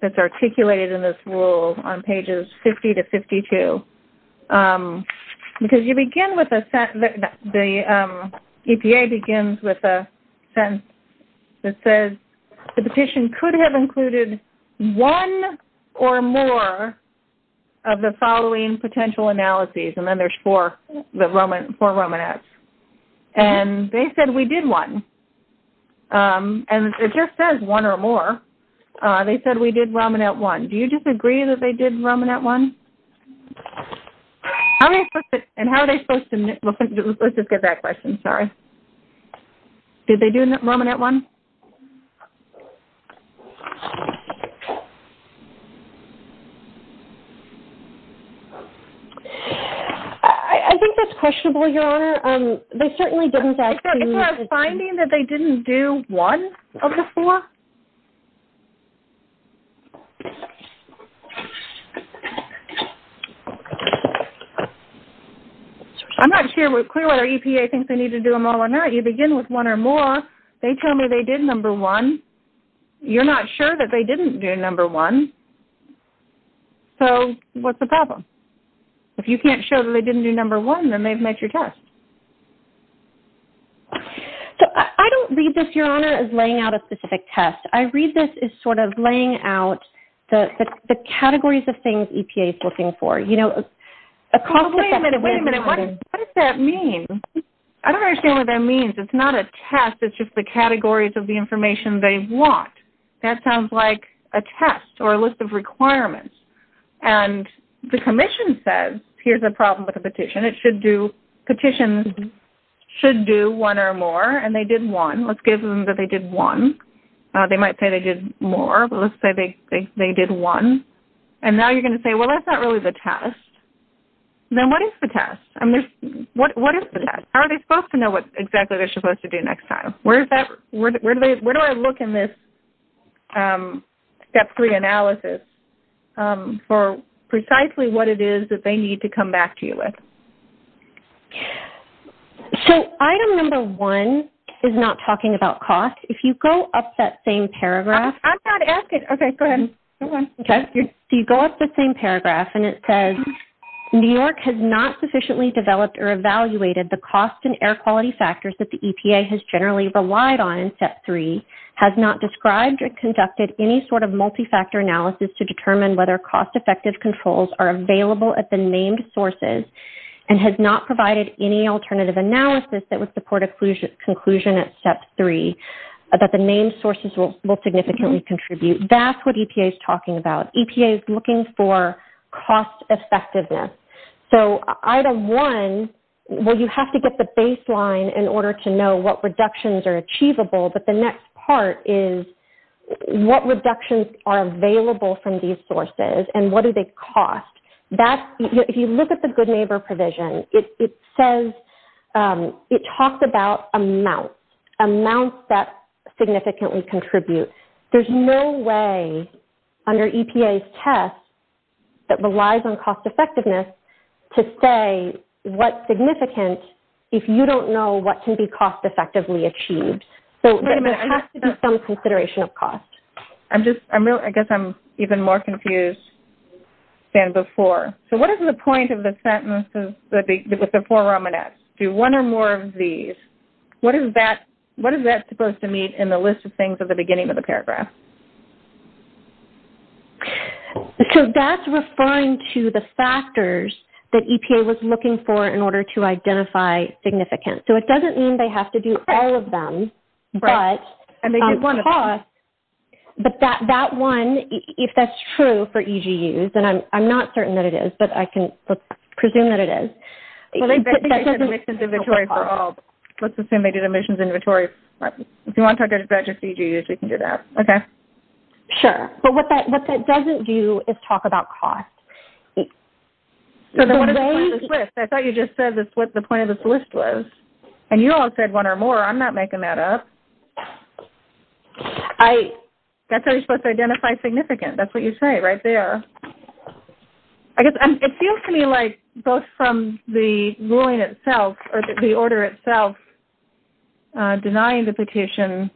that's articulated in this 50-52? Because you begin with a sentence, the EPA begins with a sentence that says, the petition could have included one or more of the following potential analyses. And then there's four Romanets. And they said we did one. And it just says one or more. They said we did Romanet one. Do you disagree that they did Romanet one? And how are they supposed to knit? Let's just get that question. Sorry. Did they do Romanet one? I think that's questionable, Your Honor. They certainly didn't say. Is there a finding that they didn't do one of the four? I'm not sure whether EPA thinks they need to do them all or not. You begin with one or more. They tell me they did number one. You're not sure that they didn't do number one. So what's the problem? If you can't show that they didn't do number one, then they've met your test. I don't read this, Your Honor, as laying out a specific test. I read this as sort of laying out the categories of things EPA is looking for. Wait a minute. What does that mean? I don't understand what that means. It's not a test. It's just the categories of the information they want. That sounds like a test or a list of requirements. And the commission says, here's the problem with the petition. Petitions should do one or more, and they did one. Let's give them that they did one. They might say they did more, but let's say they did one. And now you're going to say, well, that's not really the test. Then what is the test? What is the test? How are they supposed to know what exactly they're supposed to do next time? Where do I look in this Step 3 analysis for precisely what it is that they need to come back to you with? So item number one is not talking about cost. If you go up that same paragraph. I'm not asking. Okay, go ahead. Okay. So you go up the same paragraph, and it says, New York has not sufficiently developed or evaluated the cost and air quality factors that the EPA has generally relied on in Step 3, has not described or conducted any sort of multi-factor analysis to determine whether cost-effective controls are available at the named sources, and has not provided any alternative analysis that would support a conclusion at Step 3 that the named sources will significantly contribute. That's what EPA is talking about. EPA is looking for cost-effectiveness. So item one, well, you have to get the baseline in order to know what reductions are achievable, but the next part is what reductions are available from these sources and what do they cost. If you look at the good neighbor provision, it says it talks about amounts, amounts that significantly contribute. There's no way under EPA's test that relies on cost-effectiveness to say what's significant if you don't know what can be cost-effectively achieved. So there has to be some consideration of cost. I guess I'm even more confused than before. So what is the point of the sentences with the four Romanets? Do one or more of these. What is that supposed to mean in the list of things at the beginning of the paragraph? So that's referring to the factors that EPA was looking for in order to identify significant. So it doesn't mean they have to do all of them, but that one, if that's true for EGUs, and I'm not certain that it is, but I can presume that it is. Let's assume they did emissions inventory. If you want to talk about your CGs, you can do that. Okay. Sure. But what that doesn't do is talk about cost. I thought you just said that's what the point of this list was. And you all said one or more. I'm not making that up. That's how you're supposed to identify significant. That's what you say right there. It seems to me like both from the ruling itself or the order itself denying the petition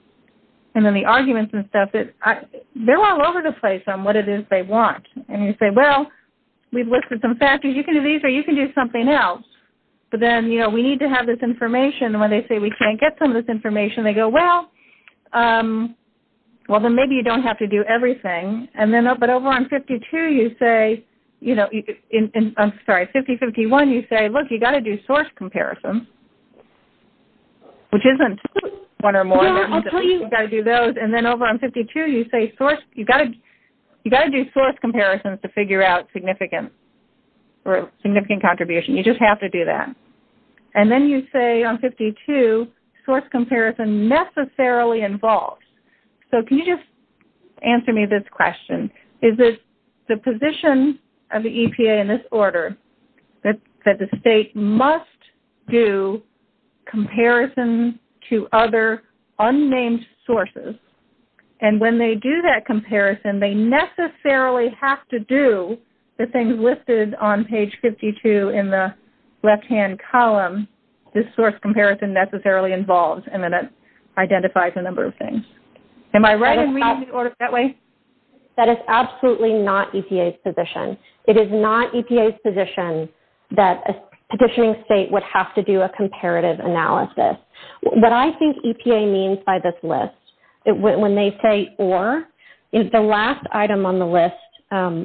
and then the arguments and stuff, they're all over the place on what it is they want. And you say, well, we've listed some factors. You can do these or you can do something else. But then, you know, we need to have this information. And when they say we can't get some of this information, they go, well, well, then maybe you don't have to do everything. But over on 52, you say, you know, I'm sorry, 5051, you say, look, you've got to do source comparisons, which isn't one or more. You've got to do those. And then over on 52, you say you've got to do source comparisons to figure out significant contribution. You just have to do that. And then you say on 52, source comparison necessarily involves. So can you just answer me this question? Is it the position of the EPA in this order that the state must do comparisons to other unnamed sources? And when they do that comparison, they necessarily have to do the things listed on page 52 in the left-hand column, this source comparison necessarily involves, and then it identifies a number of things. Am I right in reading the order that way? That is absolutely not EPA's position. It is not EPA's position that a petitioning state would have to do a comparative analysis. What I think EPA means by this list, when they say or, is the last item on the list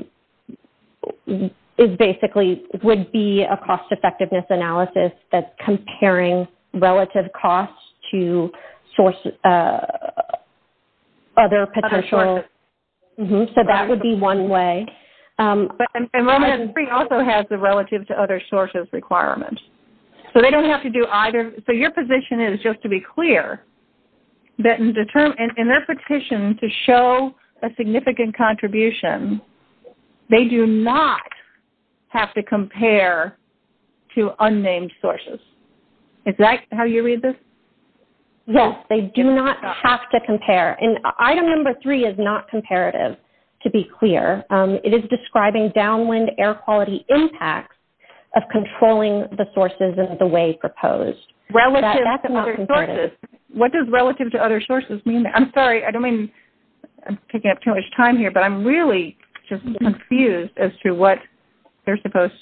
is basically would be a cost-effectiveness analysis that's comparing relative costs to other potential sources. So that would be one way. And Long Island Springs also has the relative to other sources requirement. So they don't have to do either. So your position is just to be clear that in their petition to show a significant contribution, they do not have to compare to unnamed sources. Is that how you read this? Yes, they do not have to compare. And item number three is not comparative, to be clear. It is describing downwind air quality impacts of controlling the sources in the way proposed. Relative to other sources. What does relative to other sources mean? I'm sorry, I don't mean to take up too much time here, but I'm really just confused as to what they're supposed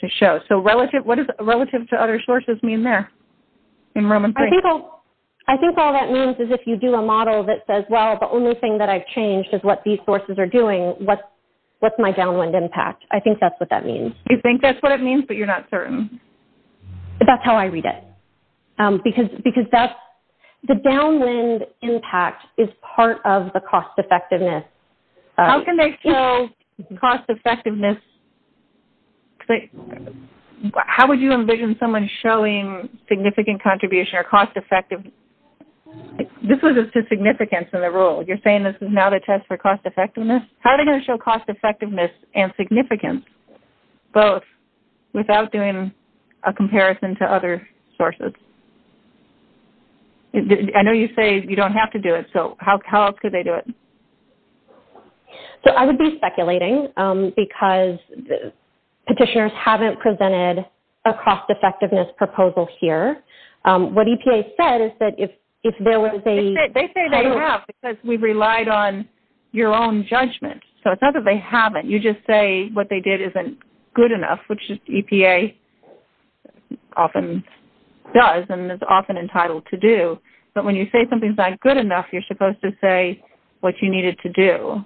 to show. So what does relative to other sources mean there in Roman Springs? I think all that means is if you do a model that says, well, the only thing that I've changed is what these sources are doing, what's my downwind impact? I think that's what that means. You think that's what it means, but you're not certain? That's how I read it. The downwind impact is part of the cost-effectiveness. How can they show cost-effectiveness? How would you envision someone showing significant contribution or cost-effective? This was just significance in the rule. You're saying this is not a test for cost-effectiveness? How are they going to show cost-effectiveness and significance both without doing a comparison to other sources? I know you say you don't have to do it, so how could they do it? I would be speculating because petitioners haven't presented a cost-effectiveness proposal here. What EPA said is that if there was a – They say they have because we've relied on your own judgment. So it's not that they haven't. You just say what they did isn't good enough, which EPA often does and is often entitled to do. But when you say something's not good enough, you're supposed to say what you needed to do.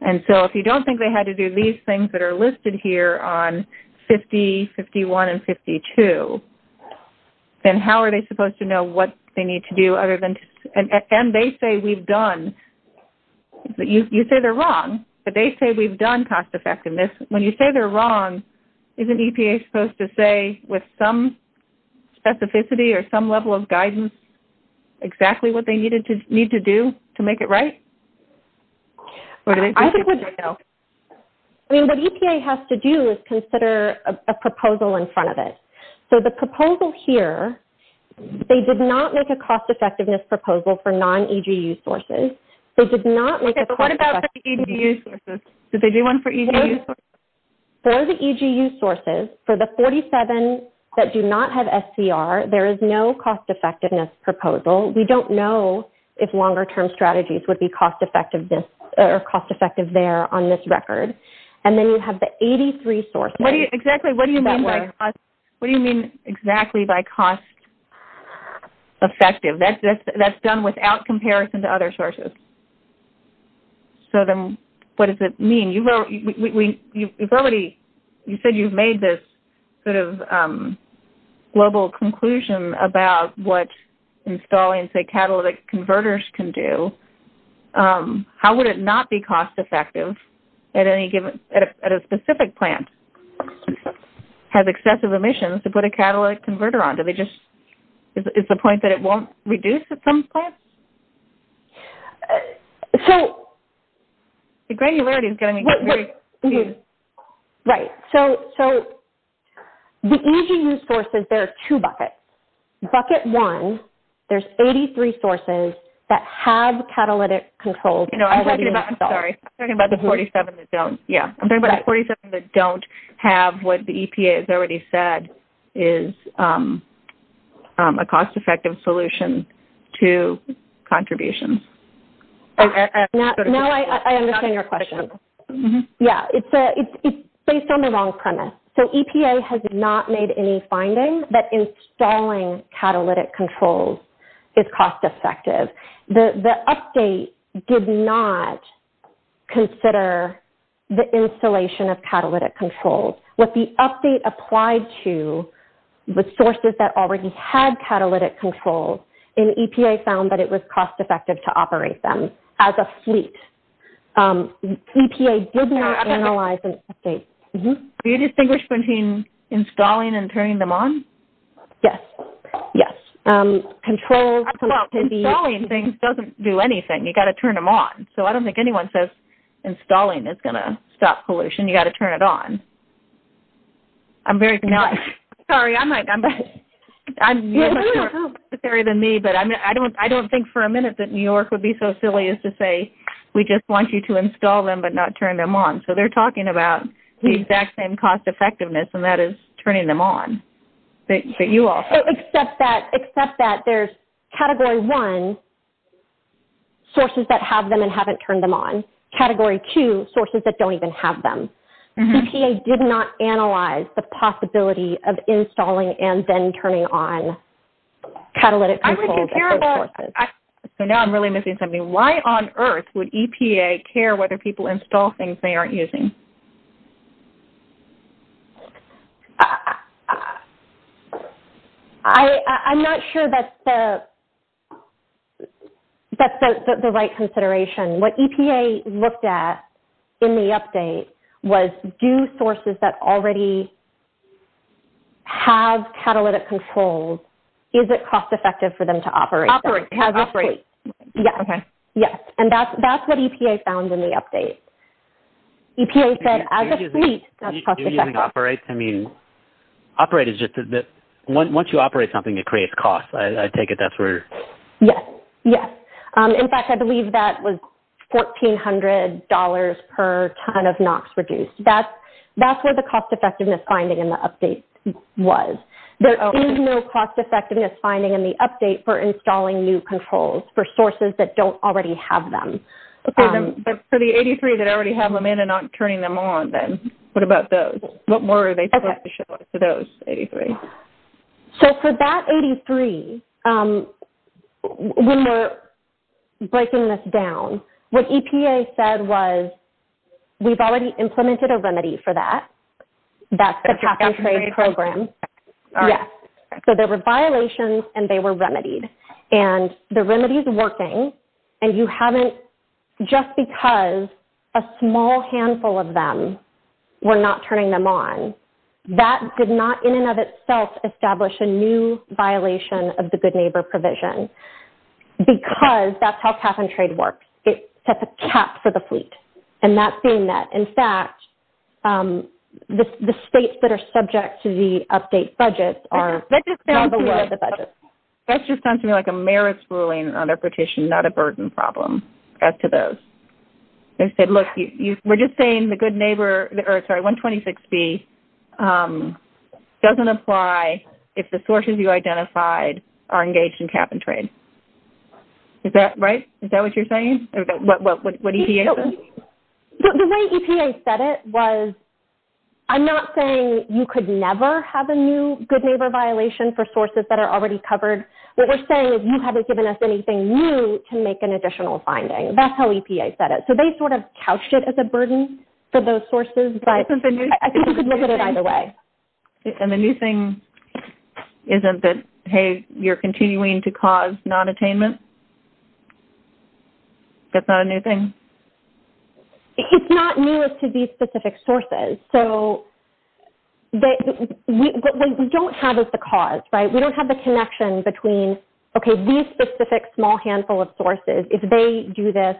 And so if you don't think they had to do these things that are listed here on 50, 51, and 52, then how are they supposed to know what they need to do other than – and they say we've done – you say they're done cost-effectiveness. When you say they're wrong, isn't EPA supposed to say with some specificity or some level of guidance exactly what they need to do to make it right? I think they should know. What EPA has to do is consider a proposal in front of it. So the proposal here, they did not make a cost-effectiveness proposal for non-EGU sources. Okay, but what about for EGU sources? Did they do one for EGU sources? For the EGU sources, for the 47 that do not have SCR, there is no cost-effectiveness proposal. We don't know if longer-term strategies would be cost-effective there on this record. And then you have the 83 sources. What do you mean exactly by cost-effective? That's done without comparison to other sources. So then what does it mean? You've already – you said you've made this sort of global conclusion about what installing, say, catalytic converters can do. How would it not be cost-effective at any given – at a specific plant has excessive emissions to put a catalytic converter on? Is the point that it won't reduce at some point? The EGU sources, there are two buckets. Bucket one, there's 83 sources that have catalytic controls already installed. I'm talking about the 47 that don't. Yeah, I'm talking about the 47 that don't have what the EPA has already said is a cost-effective solution to contributions. Now I understand your question. Yeah, it's based on the wrong premise. So EPA has not made any finding that installing catalytic controls is cost-effective. The update did not consider the installation of catalytic controls. What the update applied to was sources that already had catalytic controls, and EPA found that it was cost-effective to operate them as a fleet. EPA did not analyze the update. Do you distinguish between installing and turning them on? Yes, yes. Installing things doesn't do anything. You've got to turn them on. So I don't think anyone says installing is going to stop pollution. You've got to turn it on. I'm very – sorry, I'm not – you're more participatory than me, but I don't think for a minute that New York would be so silly as to say, we just want you to install them but not turn them on. So they're talking about the exact same cost-effectiveness, and that is turning them on. Except that there's Category 1, sources that have them and haven't turned them on. Category 2, sources that don't even have them. EPA did not analyze the possibility of installing and then turning on catalytic controls. So now I'm really missing something. Why on earth would EPA care whether people install things they aren't using? I'm not sure that's the right consideration. What EPA looked at in the update was do sources that already have catalytic controls, is it cost-effective for them to operate them? Operate. Yes. Okay. Yes, and that's what EPA found in the update. EPA said as a fleet, that's cost-effective. Operate is just that once you operate something, it creates cost. I take it that's where. Yes. In fact, I believe that was $1,400 per ton of NOx reduced. That's where the cost-effectiveness finding in the update was. There is no cost-effectiveness finding in the update for installing new controls for sources that don't already have them. But for the 83 that already have them in and aren't turning them on, what about those? What more are they supposed to show us for those 83? So for that 83, when we're breaking this down, what EPA said was we've already implemented a remedy for that. That's the cap-and-trade program. All right. Yes. So there were violations and they were remedied. And the remedy is working, and you haven't, just because a small handful of them were not turning them on, that did not in and of itself establish a new violation of the good neighbor provision because that's how cap-and-trade works. It sets a cap for the fleet. And that's being met. In fact, the states that are subject to the update budget are below the budget. That just sounds to me like a marriage ruling on a petition, not a burden problem as to those. They said, look, we're just saying the good neighbor, sorry, 126B doesn't apply if the sources you identified are engaged in cap-and-trade. Is that right? Is that what you're saying? Or what EPA said? The way EPA said it was I'm not saying you could never have a new good neighbor violation for sources that are already covered. What we're saying is you haven't given us anything new to make an additional finding. That's how EPA said it. So they sort of couched it as a burden for those sources, but I think you could look at it either way. And the new thing isn't that, hey, you're continuing to cause nonattainment? That's not a new thing? It's not new as to these specific sources. So what we don't have is the cause. We don't have the connection between, okay, these specific small handful of sources, if they do this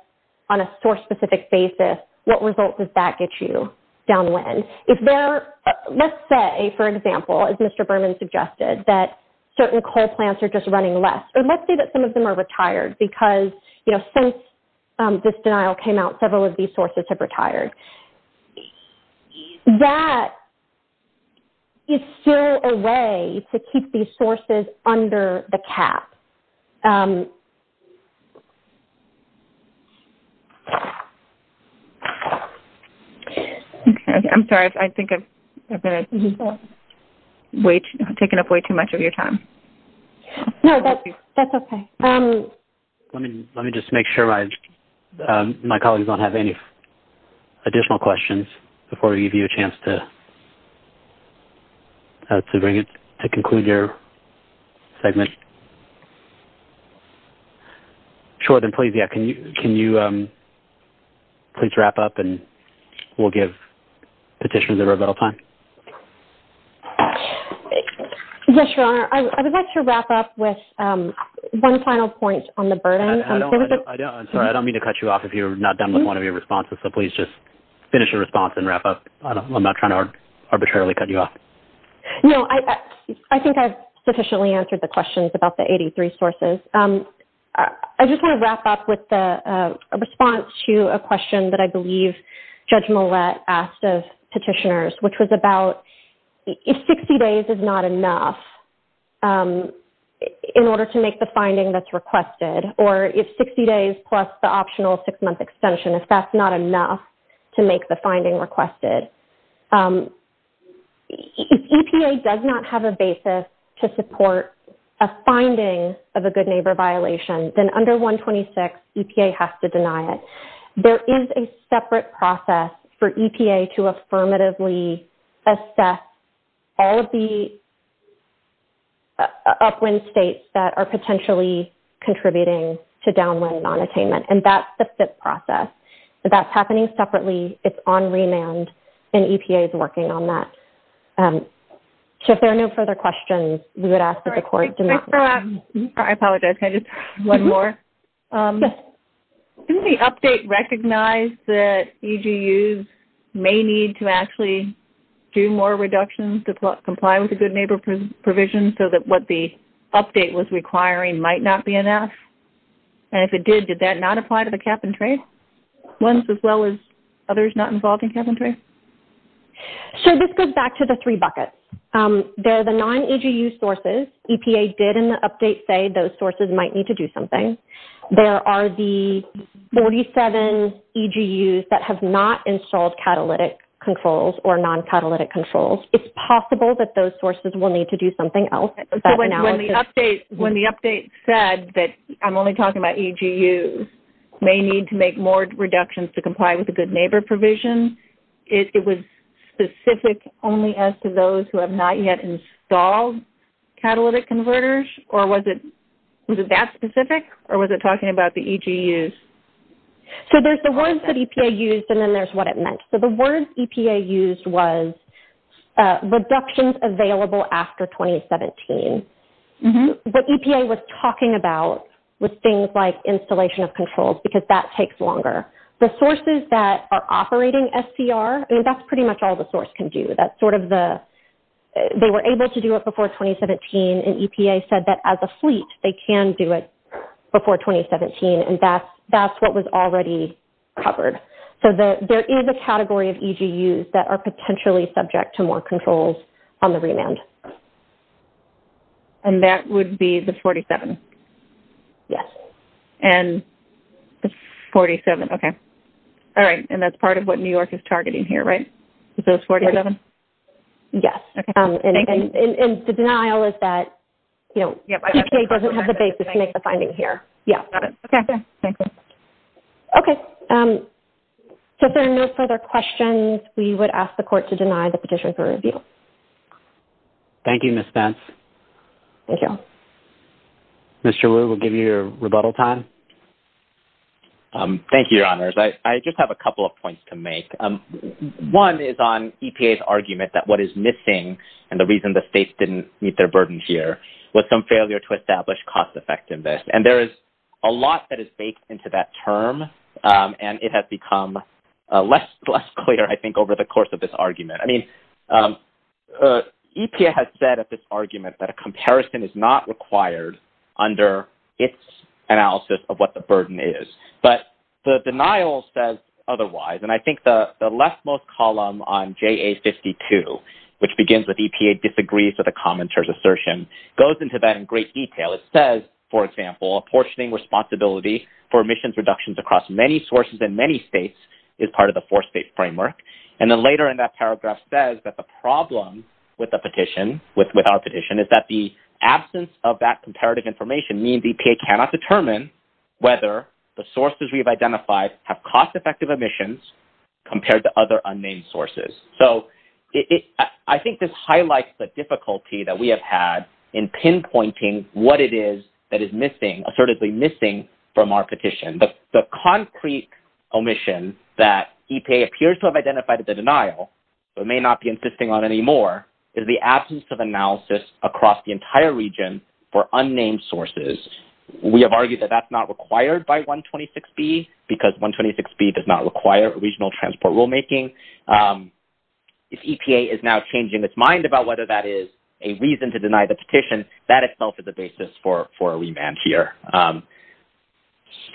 on a source-specific basis, what results does that get you downwind? Let's say, for example, as Mr. Berman suggested, that certain coal plants are just running less. Let's say that some of them are retired because since this denial came out, several of these sources have retired. That is still a way to keep these sources under the cap. I'm sorry. I think I've taken up way too much of your time. No, that's okay. Let me just make sure my colleagues don't have any additional questions before we give you a chance to conclude your segment. Jordan, please, yeah, can you please wrap up and we'll give petitioners a rebuttal time. Yes, Your Honor. I would like to wrap up with one final point on the burden. I'm sorry. I don't mean to cut you off if you're not done with one of your responses, so please just finish your response and wrap up. I'm not trying to arbitrarily cut you off. No, I think I've sufficiently answered the questions about the 83 sources. I just want to wrap up with a response to a question that I believe Judge Millett asked of petitioners, which was about if 60 days is not enough in order to make the finding that's requested, or if 60 days plus the optional six-month extension, if that's not enough to make the finding requested. If EPA does not have a basis to support a finding of a good neighbor violation, then under 126, EPA has to deny it. There is a separate process for EPA to affirmatively assess all the upwind states that are potentially contributing to downwind nonattainment, and that's the FIT process. That's happening separately. It's on remand, and EPA is working on that. If there are no further questions, we would ask that the Court deny. I apologize. Can I just add one more? Didn't the update recognize that EGUs may need to actually do more reductions to comply with the good neighbor provision so that what the update was requiring might not be enough? If it did, did that not apply to the cap-and-trade ones as well as others not involved in cap-and-trade? This goes back to the three buckets. There are the non-EGU sources. EPA did in the update say those sources might need to do something. There are the 47 EGUs that have not installed catalytic controls or non-catalytic controls. It's possible that those sources will need to do something else. When the update said that I'm only talking about EGUs, may need to make more reductions to comply with the good neighbor provision, it was specific only as to those who have not yet installed catalytic converters, or was it that specific, or was it talking about the EGUs? There's the words that EPA used, and then there's what it meant. The words EPA used was reductions available after 2017. What EPA was talking about was things like installation of controls because that takes longer. The sources that are operating SCR, that's pretty much all the source can do. They were able to do it before 2017, and EPA said that as a fleet, they can do it before 2017, and that's what was already covered. So there is a category of EGUs that are potentially subject to more controls on the remand. And that would be the 47? Yes. And the 47, okay. All right, and that's part of what New York is targeting here, right? The 47? Yes. Okay, thank you. And the denial is that EPA doesn't have the basis to make the findings here. Got it. Okay. Thank you. Okay, so if there are no further questions, we would ask the court to deny the petition for review. Thank you, Ms. Spence. Thank you. Mr. Liu, we'll give you your rebuttal time. Thank you, Your Honors. I just have a couple of points to make. One is on EPA's argument that what is missing and the reason the states didn't meet their burden here was some failure to establish cost effectiveness. And there is a lot that is baked into that term, and it has become less clear, I think, over the course of this argument. I mean, EPA has said at this argument that a comparison is not required under its analysis of what the burden is. But the denial says otherwise. And I think the leftmost column on JA52, which begins with EPA disagrees with the commenter's assertion, goes into that in great detail. It says, for example, apportioning responsibility for emissions reductions across many sources in many states is part of the four-state framework. And then later in that paragraph says that the problem with the petition, with our petition, is that the absence of that comparative information means EPA cannot determine whether the sources we have identified have cost-effective emissions compared to other unnamed sources. So I think this highlights the difficulty that we have had in pinpointing what it is that is missing, assertively missing from our petition. But the concrete omission that EPA appears to have identified as a denial, but may not be insisting on anymore, is the absence of analysis across the entire region for unnamed sources. We have argued that that's not required by 126B because 126B does not require regional transport rulemaking. If EPA is now changing its mind about whether that is a reason to deny the petition, that itself is a basis for a remand here.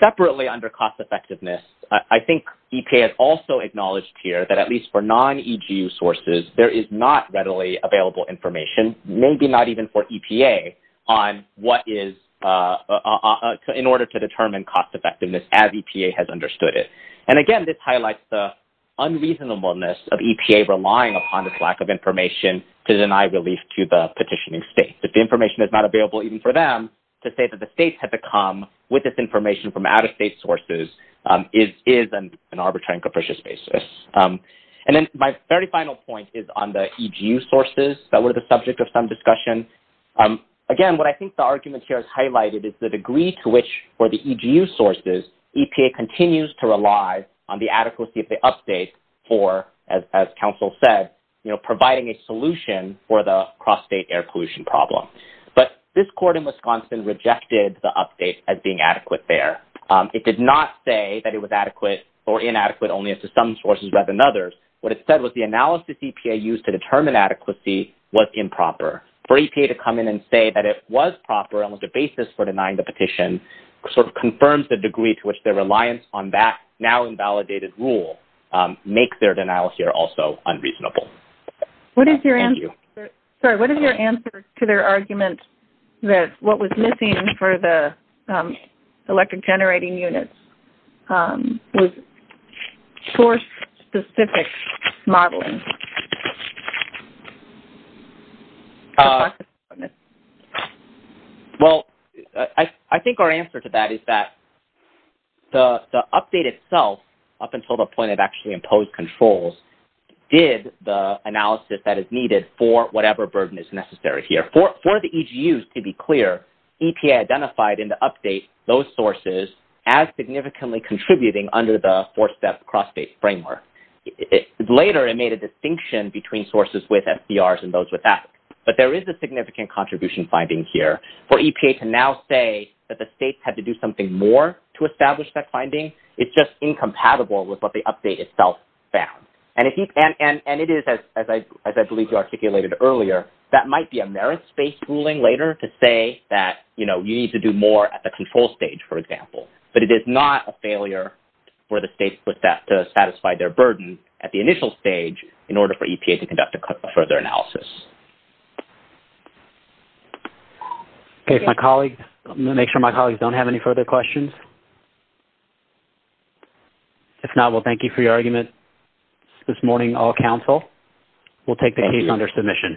Separately under cost-effectiveness, I think EPA has also acknowledged here that at least for non-EGU sources, there is not readily available information, maybe not even for EPA, on what is, in order to determine cost-effectiveness as EPA has understood it. And again, this highlights the unreasonableness of EPA relying upon this lack of information to deny relief to the petitioning state. If the information is not available even for them, to say that the state had to come with this information from out-of-state sources is an arbitrary and capricious basis. And then my very final point is on the EGU sources that were the subject of some discussion. Again, what I think the argument here has highlighted is the degree to which for the EGU sources, EPA continues to rely on the adequacy of the update for, as counsel said, providing a solution for the cross-state air pollution problem. But this court in Wisconsin rejected the update as being adequate there. It did not say that it was adequate or inadequate only as to some sources rather than others. What it said was the analysis EPA used to determine adequacy was improper. For EPA to come in and say that it was proper and was the basis for denying the petition sort of confirms the degree to which their reliance on that now-invalidated rule makes their denial here also unreasonable. Thank you. What is your answer to their argument that what was missing for the electric generating units was source-specific modeling? Well, I think our answer to that is that the update itself, up until the point it actually imposed controls, did the analysis that is needed for whatever burden is necessary here. For the EGU, to be clear, EPA identified in the update those sources as significantly contributing under the four-step cross-state framework. Later, it made a distinction between sources with FDRs and those without. But there is a significant contribution finding here. For EPA to now say that the states had to do something more to establish that finding is just incompatible with what the update itself found. And it is, as I believe you articulated earlier, that might be a merit-based ruling later to say that you need to do more at the control stage, for example. But it is not a failure for the states with that to satisfy their burden at the initial stage in order for EPA to conduct a further analysis. Okay, if my colleagues... I'm going to make sure my colleagues don't have any further questions. If not, we'll thank you for your argument. This morning, I'll counsel. We'll take the case under submission.